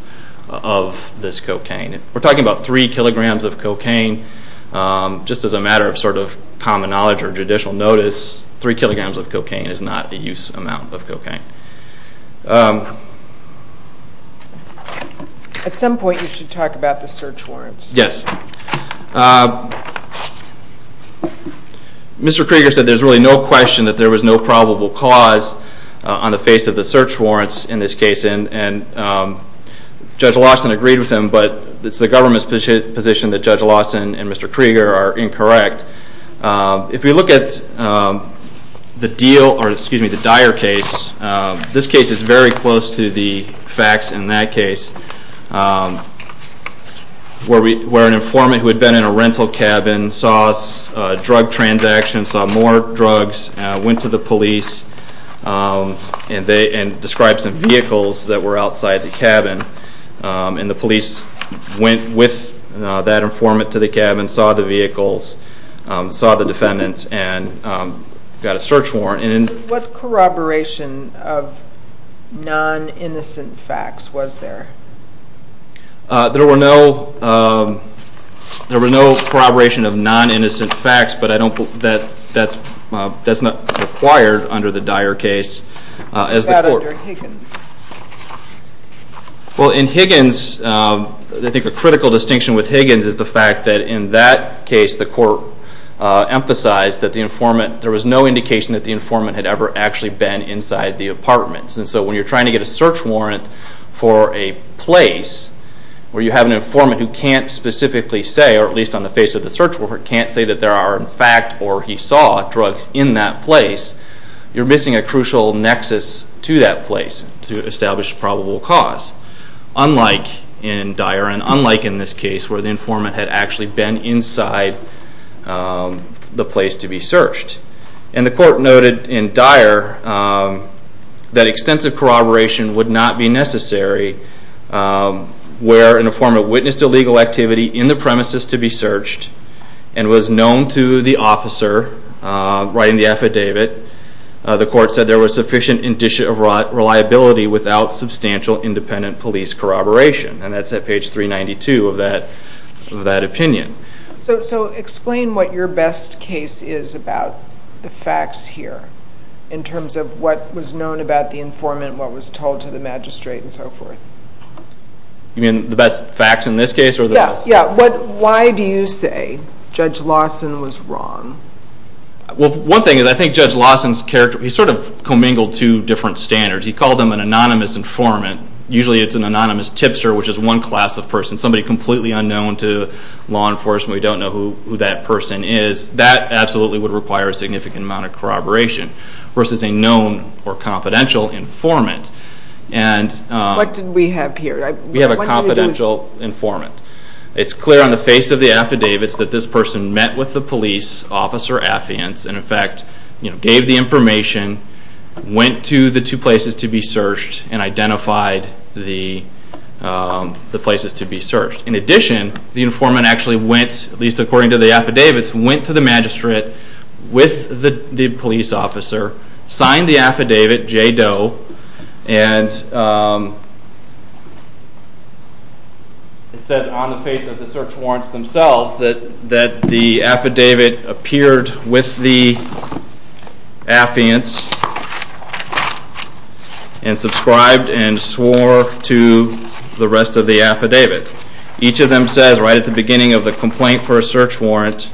of this cocaine. We're talking about three kilograms of cocaine, just as a matter of sort of common knowledge or judicial notice, three kilograms of cocaine is not a use amount of cocaine. At some point, you should talk about the search warrants. Yes. Mr. Krieger said there's really no question that there was no probable cause on the face of the search warrants in this case, and Judge Lawson agreed with him, but it's the government's position that Judge Lawson and Mr. Krieger are incorrect. If you look at the Dyer case, this case is very close to the facts in that case, where an informant who had been in a rental cabin saw a drug transaction, saw more drugs, went to the police, and described some vehicles that were outside the cabin, and the police went with that informant to the cabin, saw the vehicles, saw the defendants, and got a search warrant. What corroboration of non-innocent facts was there? There were no corroboration of non-innocent facts, but that's not required under the Dyer case. What about under Higgins? Well, in Higgins, I think the critical distinction with Higgins is the fact that in that case, the court emphasized that there was no indication that the informant had ever actually been inside the apartments. And so when you're trying to get a search warrant for a place where you have an informant who can't specifically say, or at least on the face of the search warrant, can't say that there are in fact or he saw drugs in that place, you're missing a crucial nexus to that place to establish probable cause, unlike in Dyer, and unlike in this case where the informant had actually been inside the place to be searched. And the court noted in Dyer that extensive corroboration would not be necessary where an informant witnessed illegal activity in the premises to be searched and was known to the officer writing the affidavit. The court said there was sufficient indicia reliability without substantial independent police corroboration, and that's at page 392 of that opinion. So explain what your best case is about the facts here in terms of what was known about the informant, what was told to the magistrate, and so forth. You mean the best facts in this case, or the best... Why do you say Judge Lawson was wrong? Well, one thing is I think Judge Lawson's character, he sort of commingled two different standards. He called him an anonymous informant. Usually it's an anonymous tipster, which is one class of person, somebody completely unknown to law enforcement, we don't know who that person is. That absolutely would require a significant amount of corroboration, versus a known or confidential informant. And... What did we have here? We have a confidential informant. It's clear on the face of the affidavit that this person met with the police officer, Atheans, and in fact gave the information, went to the two places to be searched, and identified the places to be searched. In addition, the informant actually went, at least according to the affidavit, went to the magistrate with the police officer, signed the affidavit, J. Doe, and said on the face of the search warrants themselves that the affidavit appeared with the Atheans, and subscribed and swore to the rest of the affidavit. Each of them says right at the beginning of the complaint for a search warrant,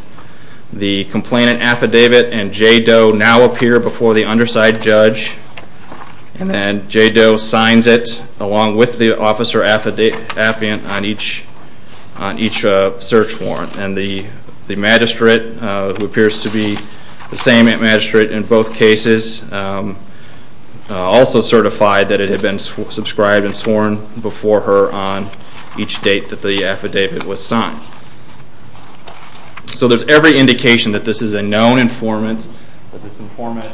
the complainant affidavit and J. Doe now appear before the underside judge, and J. Doe signs it along with the officer affidavit on each search warrant. And the magistrate, who appears to be the same magistrate in both cases, also certified that it had been subscribed and sworn before her on each date that the affidavit was signed. So there's every indication that this is a known informant, that the informant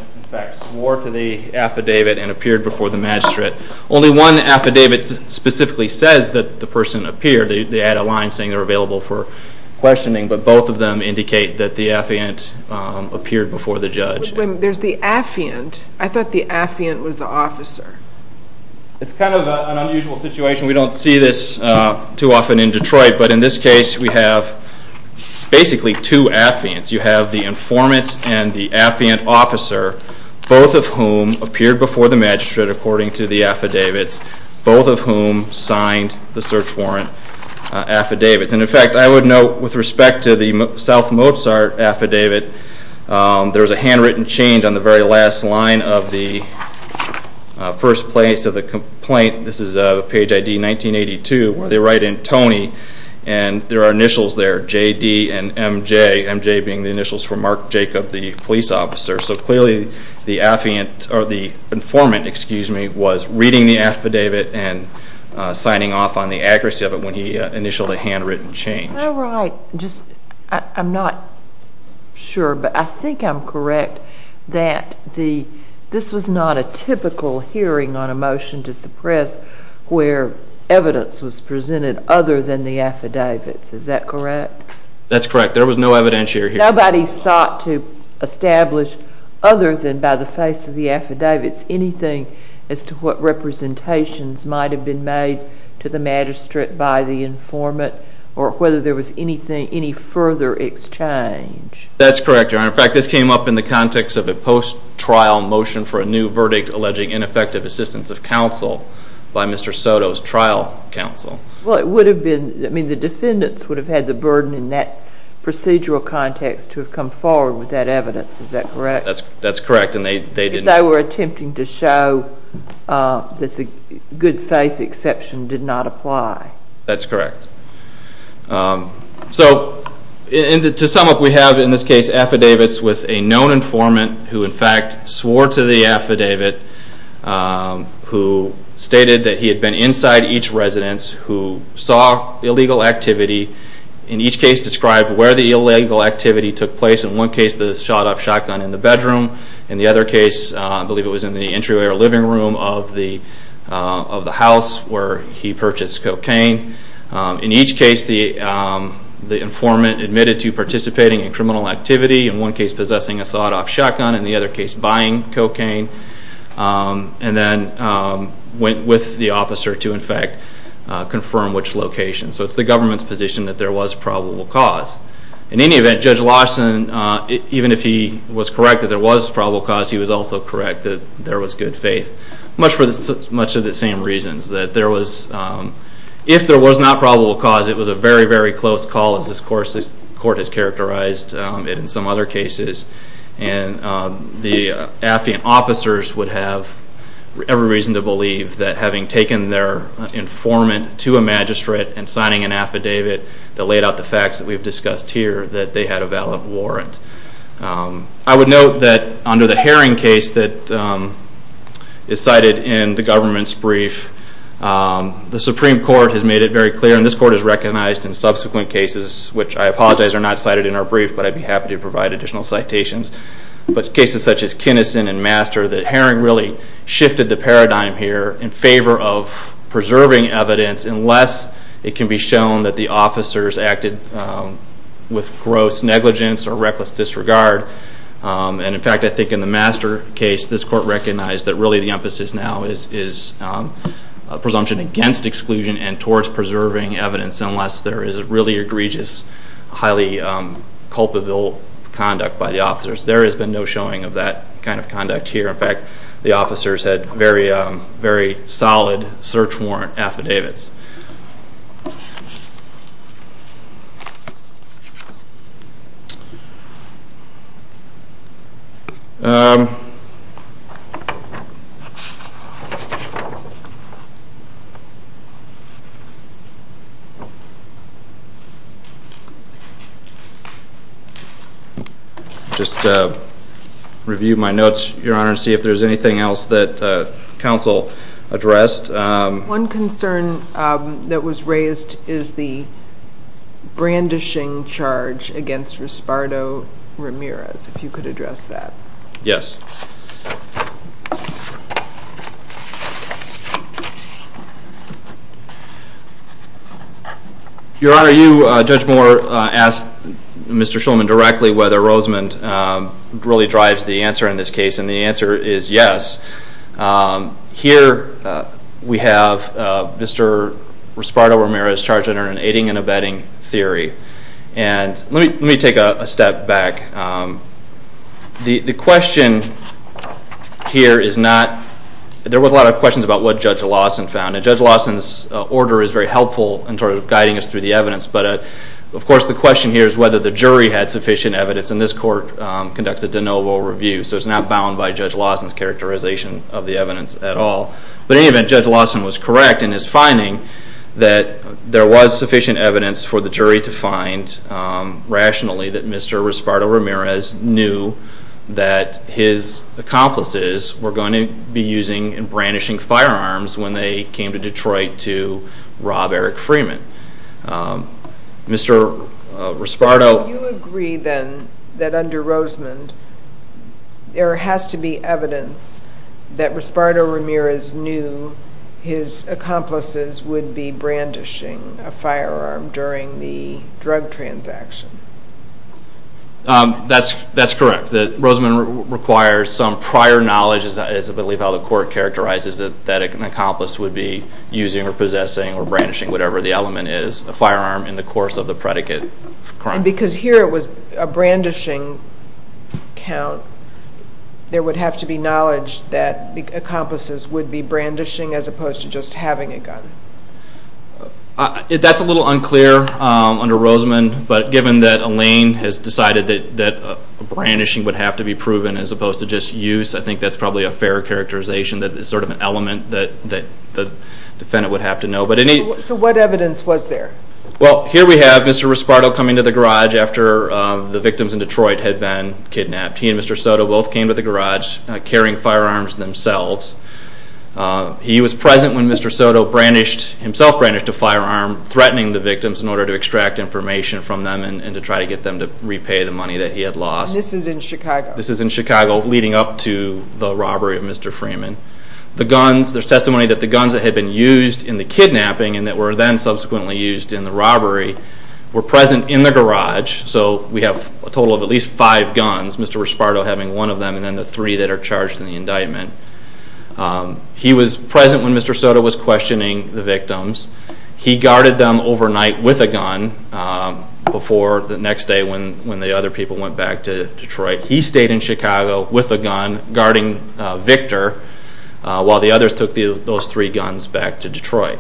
swore to the affidavit and appeared before the magistrate. Only one affidavit specifically says that the person appeared, they had a line saying they were available for questioning, but both of them indicate that the affiant appeared before the judge. There's the affiant. I thought the affiant was the officer. It's kind of an unusual situation. We don't see this too often in Detroit, but in this case we have basically two affiants. You have the informant and the affiant officer, both of whom appeared before the magistrate according to the affidavit, both of whom signed the search warrant affidavit. And in fact, I would note with respect to the South Mozart affidavit, there's a handwritten change on the very last line of the first place of the complaint. This is page ID 1982, where they write in Tony, and there are initials there, JD and MJ, MJ being the initials for Mark Jacob, the police officer. So clearly the informant was reading the affidavit and signing off on the accuracy of it when he initialed the handwritten change. All right. I'm not sure, but I think I'm correct that this was not a typical hearing on a motion to suppress where evidence was presented other than the affidavit. Is that correct? That's correct. There was no evidentiator here. Nobody sought to establish other than by the face of the affidavit anything as to what or whether there was any further exchange. That's correct, Your Honor. In fact, this came up in the context of a post-trial motion for a new verdict alleging ineffective assistance of counsel by Mr. Soto's trial counsel. Well, it would have been, I mean, the defendants would have had the burden in that procedural context to have come forward with that evidence, is that correct? That's correct. Because they were attempting to show that the good faith exception did not apply. That's correct. So, to sum up, we have in this case affidavits with a known informant who, in fact, swore to the affidavit, who stated that he had been inside each residence, who saw the illegal activity, in each case described where the illegal activity took place. In one case, the shot-off shotgun in the bedroom. In the other case, I believe it was in the entryway or living room of the house where he purchased cocaine. In each case, the informant admitted to participating in criminal activity, in one case, possessing a sawed-off shotgun, in the other case, buying cocaine, and then went with the officer to, in fact, confirm which location. So, it's the government's position that there was probable cause. In any event, Judge Larson, even if he was correct that there was probable cause, he was also correct that there was good faith, much for much of the same reasons, that there was, if there was not probable cause, it was a very, very close call, as, of course, the court has characterized it in some other cases, and the affiant officers would have every reason to believe that having taken their informant to a magistrate and signing an affidavit that laid out the facts that we've discussed here, that they had a valid warrant. I would note that under the Herring case that is cited in the government's brief, the Supreme Court has made it very clear, and this court has recognized in subsequent cases, which I apologize are not cited in our brief, but I'd be happy to provide additional citations, but cases such as Kinnison and Master, that Herring really shifted the paradigm here in favor of preserving evidence unless it can be shown that the officers acted with gross negligence or reckless disregard, and, in fact, I think in the Master case, this court recognized that really the emphasis now is presumption against exclusion and towards preserving evidence unless there is really egregious, highly culpable conduct by the officers. There has been no showing of that kind of conduct here. In fact, the officers had very, very solid search warrant affidavits. I'll just review my notes, Your Honor, and see if there's anything else that counsel addressed. One concern that was raised is the brandishing charge against Rispardo Ramirez, if you could address that. Yes. Your Honor, you, Judge Moore, asked Mr. Shulman directly whether Rosemond really drives the answer in this case, and the answer is yes. Here we have Mr. Rispardo Ramirez charged under an aiding and abetting theory, and let me take a step back. The question here is not, there was a lot of questions about what Judge Lawson found, and Judge Lawson's order is very helpful in sort of guiding us through the evidence, but, of course, the question here is whether the jury had sufficient evidence, and this court conducted de novo review, so it's not bound by Judge Lawson's characterization of the evidence at all. But, in any event, Judge Lawson was correct in his finding that there was sufficient evidence for the jury to find, rationally, that Mr. Rispardo Ramirez knew that his accomplices were going to be using and brandishing firearms when they came to Detroit to rob Eric Freeman. Do you agree, then, that under Rosemond, there has to be evidence that Rispardo Ramirez knew his accomplices would be brandishing a firearm during the drug transaction? That's correct, that Rosemond requires some prior knowledge, as I believe how the court characterizes it, that an accomplice would be using or possessing or brandishing whatever the element is, a firearm, in the course of the predicate crime. Because here it was a brandishing count, there would have to be knowledge that the accomplices would be brandishing as opposed to just having a gun? That's a little unclear under Rosemond, but given that Elaine has decided that brandishing would have to be proven as opposed to just use, I think that's probably a fair characterization that is sort of an element that the defendant would have to know. So what evidence was there? Well, here we have Mr. Rispardo coming to the garage after the victims in Detroit had been kidnapped. He and Mr. Soto both came to the garage carrying firearms themselves. He was present when Mr. Soto himself brandished a firearm, threatening the victims in order to extract information from them and to try to get them to repay the money that he had lost. This is in Chicago? This is in Chicago, leading up to the robbery of Mr. Freeman. The guns, there's testimony that the guns that had been used in the kidnapping and that were then subsequently used in the robbery were present in the garage. So we have a total of at least five guns, Mr. Rispardo having one of them and then the three that are charged in the indictment. He was present when Mr. Soto was questioning the victims. He guarded them overnight with a gun before the next day when the other people went back to Detroit. He stayed in Chicago with a gun, guarding Victor, while the others took those three guns back to Detroit.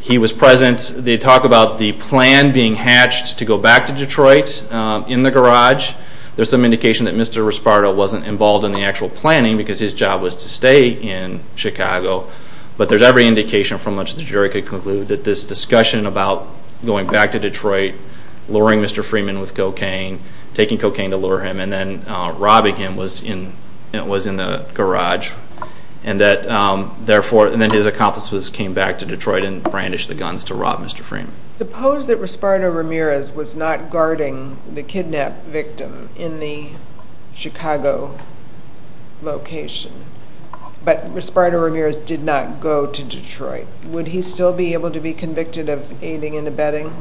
He was present. They talk about the plan being hatched to go back to Detroit in the garage. There's some indication that Mr. Rispardo wasn't involved in the actual planning because his job was to stay in Chicago, but there's every indication from which the jury could conclude that this discussion about going back to Detroit, luring Mr. Freeman with cocaine, taking cocaine to lure him, and then robbing him was in the garage, and then his accomplices came back to Detroit and brandished the guns to rob Mr. Freeman. Suppose that Rispardo Ramirez was not guarding the kidnapped victim in the Chicago location, but Rispardo Ramirez did not go to Detroit. Would he still be able to be convicted of aiding and abetting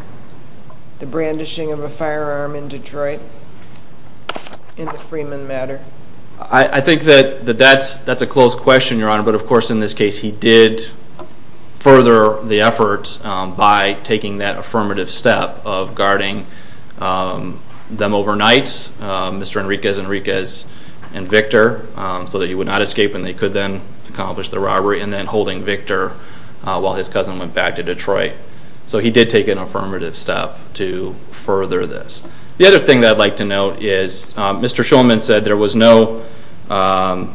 the brandishing of a firearm in Detroit in the Freeman matter? I think that that's a closed question, Your Honor, but of course in this case he did further the efforts by taking that affirmative step of guarding them overnight, Mr. Enriquez, Enriquez and Victor, so that he would not escape and they could then accomplish the robbery and then holding Victor while his cousin went back to Detroit. So he did take an affirmative step to further this. The other thing I'd like to note is Mr. Schulman said there was no tie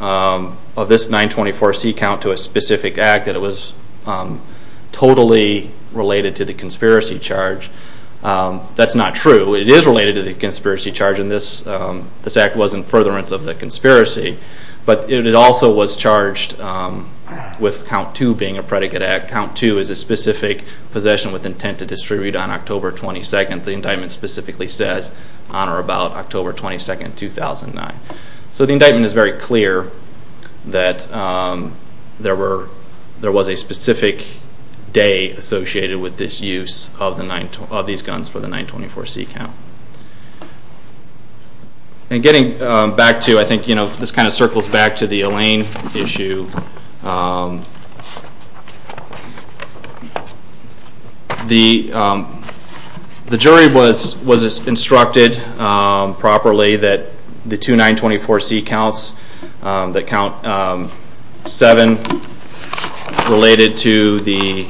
of this 924c count to a specific act, that it was totally related to the conspiracy charge. That's not true. It is related to the conspiracy charge and this act wasn't furtherance of the conspiracy, but it also was charged with Count 2 being a predicate act. Count 2 is a specific possession with intent to distribute on October 22nd, the indictment specifically says, on or about October 22nd, 2009. So the indictment is very clear that there was a specific date associated with this use of these guns for the 924c count. And getting back to, I think this kind of circles back to the Elaine issue, the jury was instructed properly that the 2924c counts, that count 7 related to the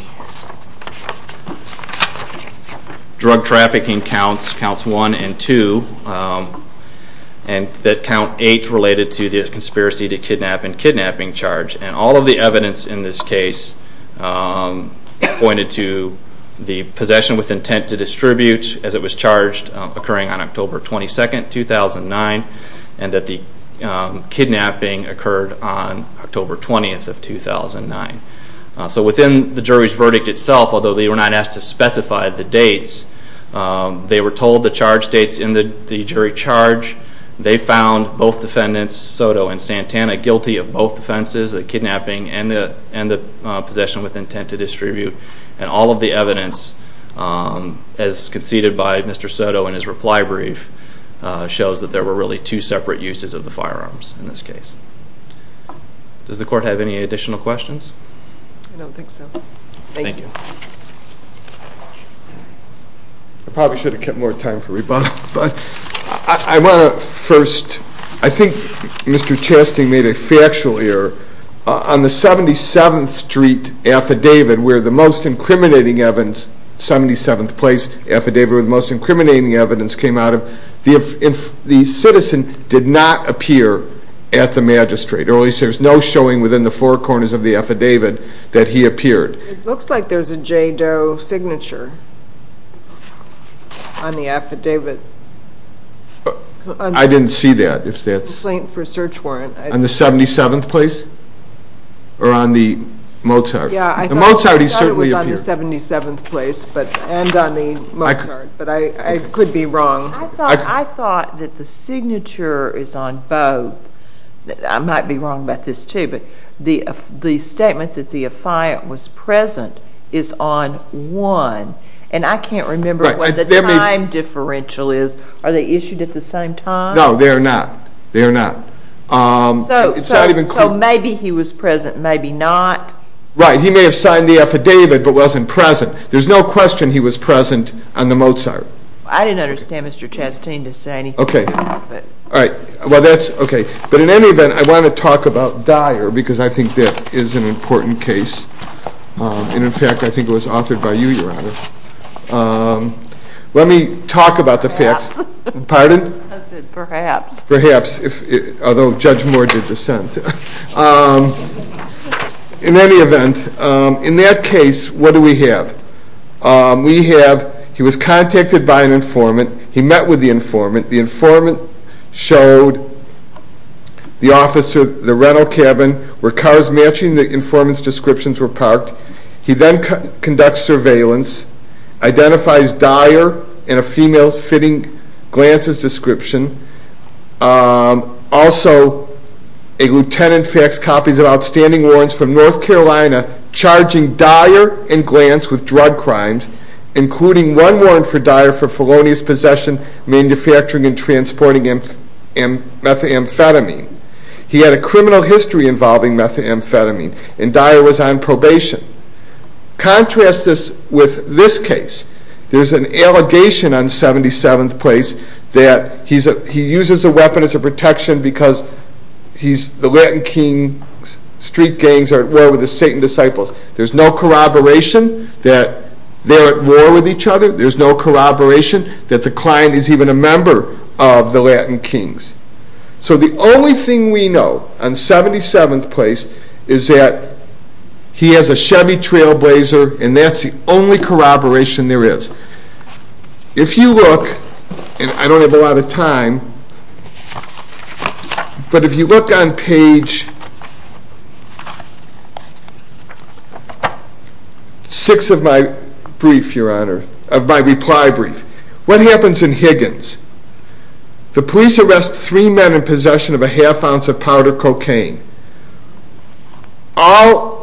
drug trafficking counts, counts 1 and 2, and that count 8 related to the conspiracy to kidnap and kidnapping charge and all of the evidence in this case pointed to the possession with intent to distribute as it was charged occurring on October 22nd, 2009, and that the kidnapping occurred on October 20th of 2009. So within the jury's verdict itself, although they were not asked to specify the dates, they were told the charge dates in the jury charge. They found both defendants, Soto and Santana, guilty of both offenses, the kidnapping and the possession with intent to distribute, and all of the evidence as conceded by Mr. Soto in his reply brief shows that there were really two separate uses of the firearms in this case. Does the court have any additional questions? I don't think so. Thank you. I probably should have kept more time for rebuttals, but I want to first, I think Mr. Chastain made a factual error. On the 77th Street affidavit where the most incriminating evidence, 77th Place affidavit where the most incriminating evidence came out of, the citizen did not appear at the magistrate, or at least there's no showing within the four corners of the affidavit that he appeared. It looks like there's a J. Doe signature on the affidavit. I didn't see that. On the 77th Place or on the Mozart? I thought it was on the 77th Place and on the Mozart, but I could be wrong. I thought that the signature is on both. I might be wrong about this too, but the statement that the affiant was present is on one, and I can't remember what the time differential is. Are they issued at the same time? No, they're not. They're not. So maybe he was present, maybe not. Right. He may have signed the affidavit, but wasn't present. There's no question he was present on the Mozart. I didn't understand Mr. Chastain to say anything about that. Okay. All right. Well, that's okay. But in any event, I want to talk about Dyer because I think that is an important case, and in fact, I think it was authored by you, Your Honor. Let me talk about the facts. Perhaps. Pardon? I said perhaps. Perhaps, although Judge Moore did dissent. In any event, in that case, what do we have? We have he was contacted by an informant. He met with the informant. The informant showed the office of the rental cabin where cars matching the informant's descriptions were parked. He then conducts surveillance, identifies Dyer in a female fitting, glances description. Also, a lieutenant faxed copies of outstanding warrants from North Carolina, charging Dyer and Glantz with drug crimes, including one warrant for Dyer for felonious possession, manufacturing and transporting methamphetamine. He had a criminal history involving methamphetamine, and Dyer was on probation. Contrast this with this case. There's an allegation on 77th Place that he uses a weapon as a protection because the Latin King street gangs are at war with the Satan disciples. There's no corroboration that they're at war with each other. There's no corroboration that the client is even a member of the Latin Kings. So the only thing we know on 77th Place is that he has a Chevy trailblazer, and that's the only corroboration there is. If you look, and I don't have a lot of time, but if you look on page six of my brief, your honor, of my reply brief, what happens in Higgins? The police arrest three men in possession of a half ounce of powder cocaine. All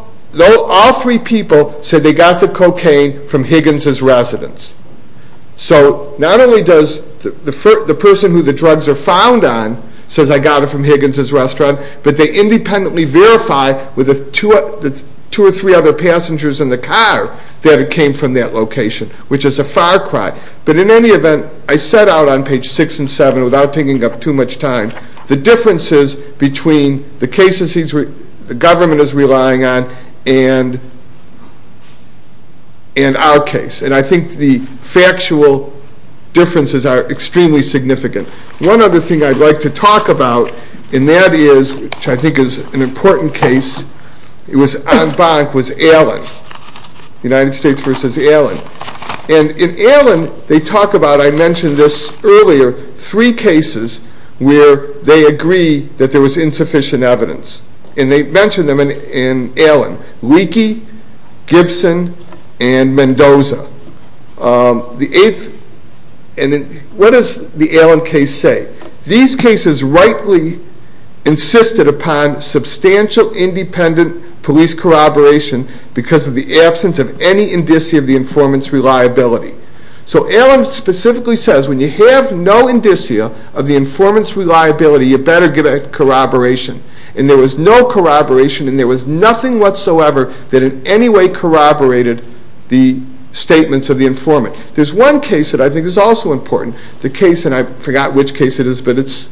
three people said they got the cocaine from Higgins' residence. So not only does the person who the drugs are found on say, I got it from Higgins' restaurant, but they independently verify with two or three other passengers in the car that it came from that location, which is a far cry. But in any event, I set out on page six and seven, without taking up too much time, the differences between the cases the government is relying on and our case. And I think the factual differences are extremely significant. One other thing I'd like to talk about, and that is, which I think is an important case, was Allen, United States v. Allen. And in Allen, they talk about, I mentioned this earlier, three cases where they agree that there was insufficient evidence. And they mention them in Allen, Leakey, Gibson, and Mendoza. And what does the Allen case say? These cases rightly insisted upon substantial independent police corroboration because of the absence of any indicia of the informant's reliability. So Allen specifically says, when you have no indicia of the informant's reliability, you better get a corroboration. And there was no corroboration, and there was nothing whatsoever that in any way corroborated the statements of the informant. There's one case that I think is also important. The case, and I forgot which case it is, but it's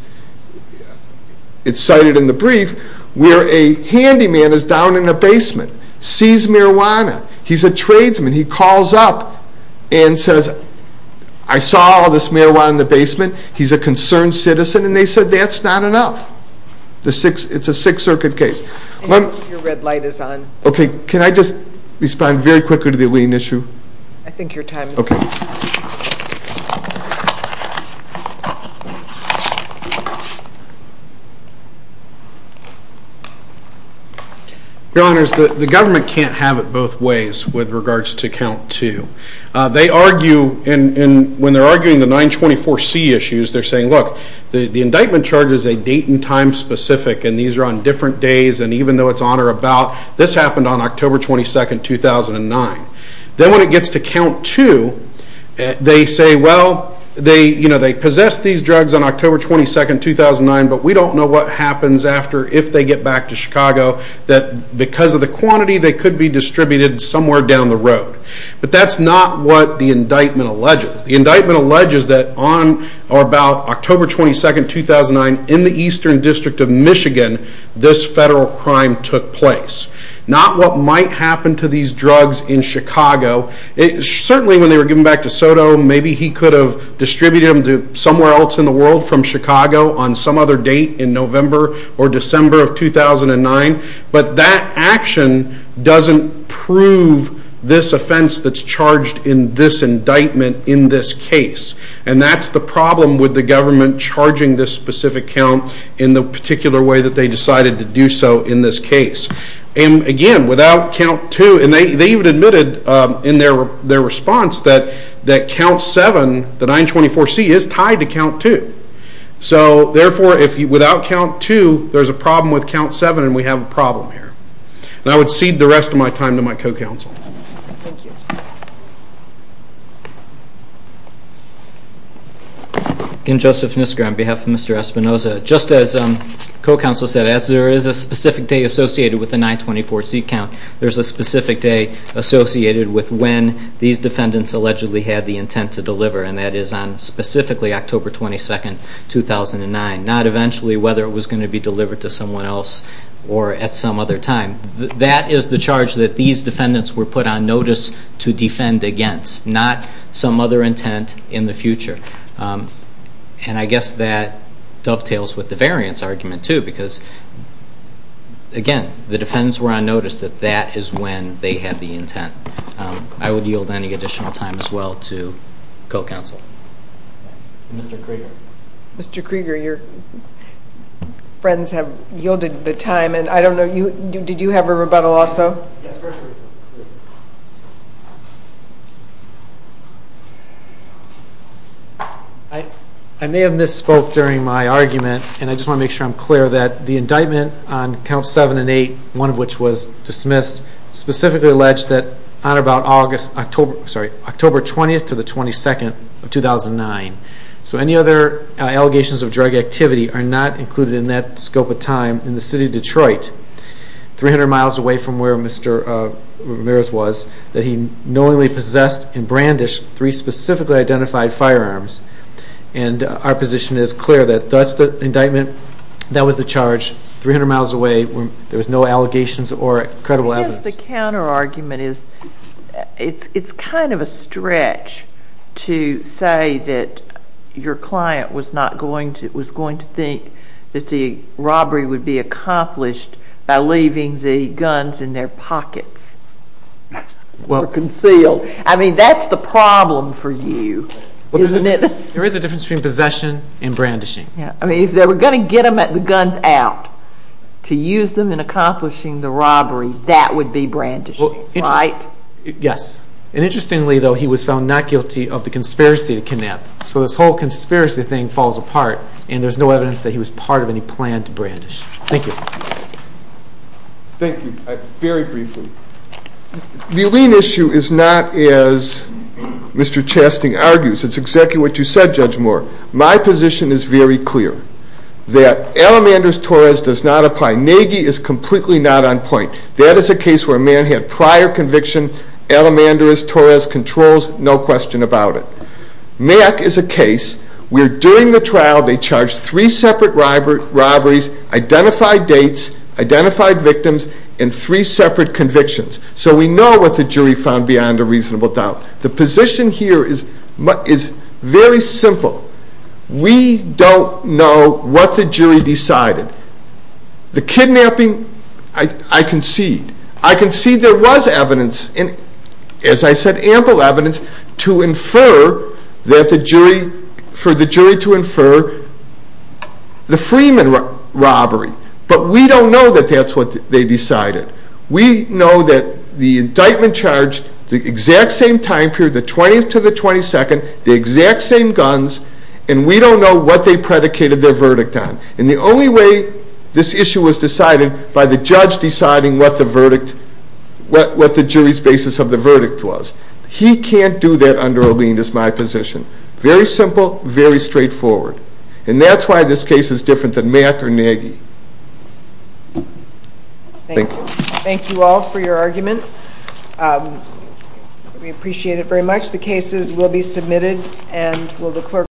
cited in the brief, where a handyman is down in a basement, sees marijuana. He's a tradesman. He calls up and says, I saw all this marijuana in the basement. He's a concerned citizen. And they said, that's not enough. It's a Sixth Circuit case. Your red light is on. Okay, can I just respond very quickly to the lien issue? I think your time is up. Okay. Your Honors, the government can't have it both ways with regards to count two. They argue, when they're arguing the 924C issues, they're saying, look, the indictment charge is a date and time specific, and these are on different days, and even though it's on or about, this happened on October 22, 2009. Then when it gets to count two, they say, well, they possessed these drugs on October 22, 2009, but we don't know what happens after, if they get back to Chicago, that because of the quantity, they could be distributed somewhere down the road. But that's not what the indictment alleges. The indictment alleges that on or about October 22, 2009, in the Eastern District of Michigan, this federal crime took place. Not what might happen to these drugs in Chicago. Certainly when they were given back to Soto, maybe he could have distributed them to somewhere else in the world from Chicago on some other date in November or December of 2009, but that action doesn't prove this offense that's charged in this indictment in this case. And that's the problem with the government charging this specific count in the particular way that they decided to do so in this case. And again, without count two, and they even admitted in their response that count seven, the 924C, is tied to count two. So, therefore, without count two, there's a problem with count seven, and we have a problem here. And I would cede the rest of my time to my co-counsel. In justice, Mr. Graham, on behalf of Mr. Espinoza, just as co-counsel said, as there is a specific date associated with the 924C count, there's a specific date associated with when these defendants allegedly had the intent to deliver, and that is on specifically October 22, 2009, not eventually whether it was going to be delivered to someone else or at some other time. That is the charge that these defendants were put on notice to defend against, not some other intent in the future. And I guess that dovetails with the variance argument, too, because, again, the defendants were on notice that that is when they had the intent. I would yield any additional time as well to co-counsel. Mr. Krieger. Mr. Krieger, your friends have yielded the time, and I don't know, did you have a rebuttal also? I may have misspoke during my argument, and I just want to make sure I'm clear that the indictment on count seven and eight, one of which was dismissed, specifically alleged that on about October 20th to the 22nd of 2009. So any other allegations of drug activity are not included in that scope of time in the city of Detroit, 300 miles away from where Mr. Ramirez was, that he knowingly possessed and brandished three specifically identified firearms. And our position is clear that that's the indictment, that was the charge, 300 miles away, there was no allegations or credible evidence. I guess the counterargument is it's kind of a stretch to say that your client was not going to, was going to think that the robbery would be accomplished by leaving the guns in their pockets or concealed. I mean, that's the problem for you, isn't it? There is a difference between possession and brandishing. I mean, if they were going to get the guns out to use them in accomplishing the robbery, that would be brandishing, right? Yes. And interestingly, though, he was found not guilty of the conspiracy to commit. So this whole conspiracy thing falls apart, and there's no evidence that he was part of any plan to brandish. Thank you. Thank you. Very briefly. The lien issue is not as Mr. Chasting argues. It's exactly what you said, Judge Moore. My position is very clear, that Alamander's-Torres does not apply. Nagy is completely not on point. That is a case where a man had prior conviction, Alamander's-Torres controls, no question about it. Mack is a case where, during the trial, they charged three separate robberies, identified dates, identified victims, and three separate convictions. So we know what the jury found beyond a reasonable doubt. The position here is very simple. We don't know what the jury decided. The kidnapping, I can see. I can see there was evidence, as I said, ample evidence, to infer that the jury-for the jury to infer the Freeman robbery. But we don't know that that's what they decided. We know that the indictment charged the exact same time period, the 20th to the 22nd, the exact same guns, and we don't know what they predicated their verdict on. And the only way this issue was decided, by the judge deciding what the jury's basis of the verdict was. He can't do that under a lien, is my position. Very simple, very straightforward. And that's why this case is different than Mack or Nagy. Thank you. Thank you all for your arguments. We appreciate it very much. The cases will be submitted, and will the clerk...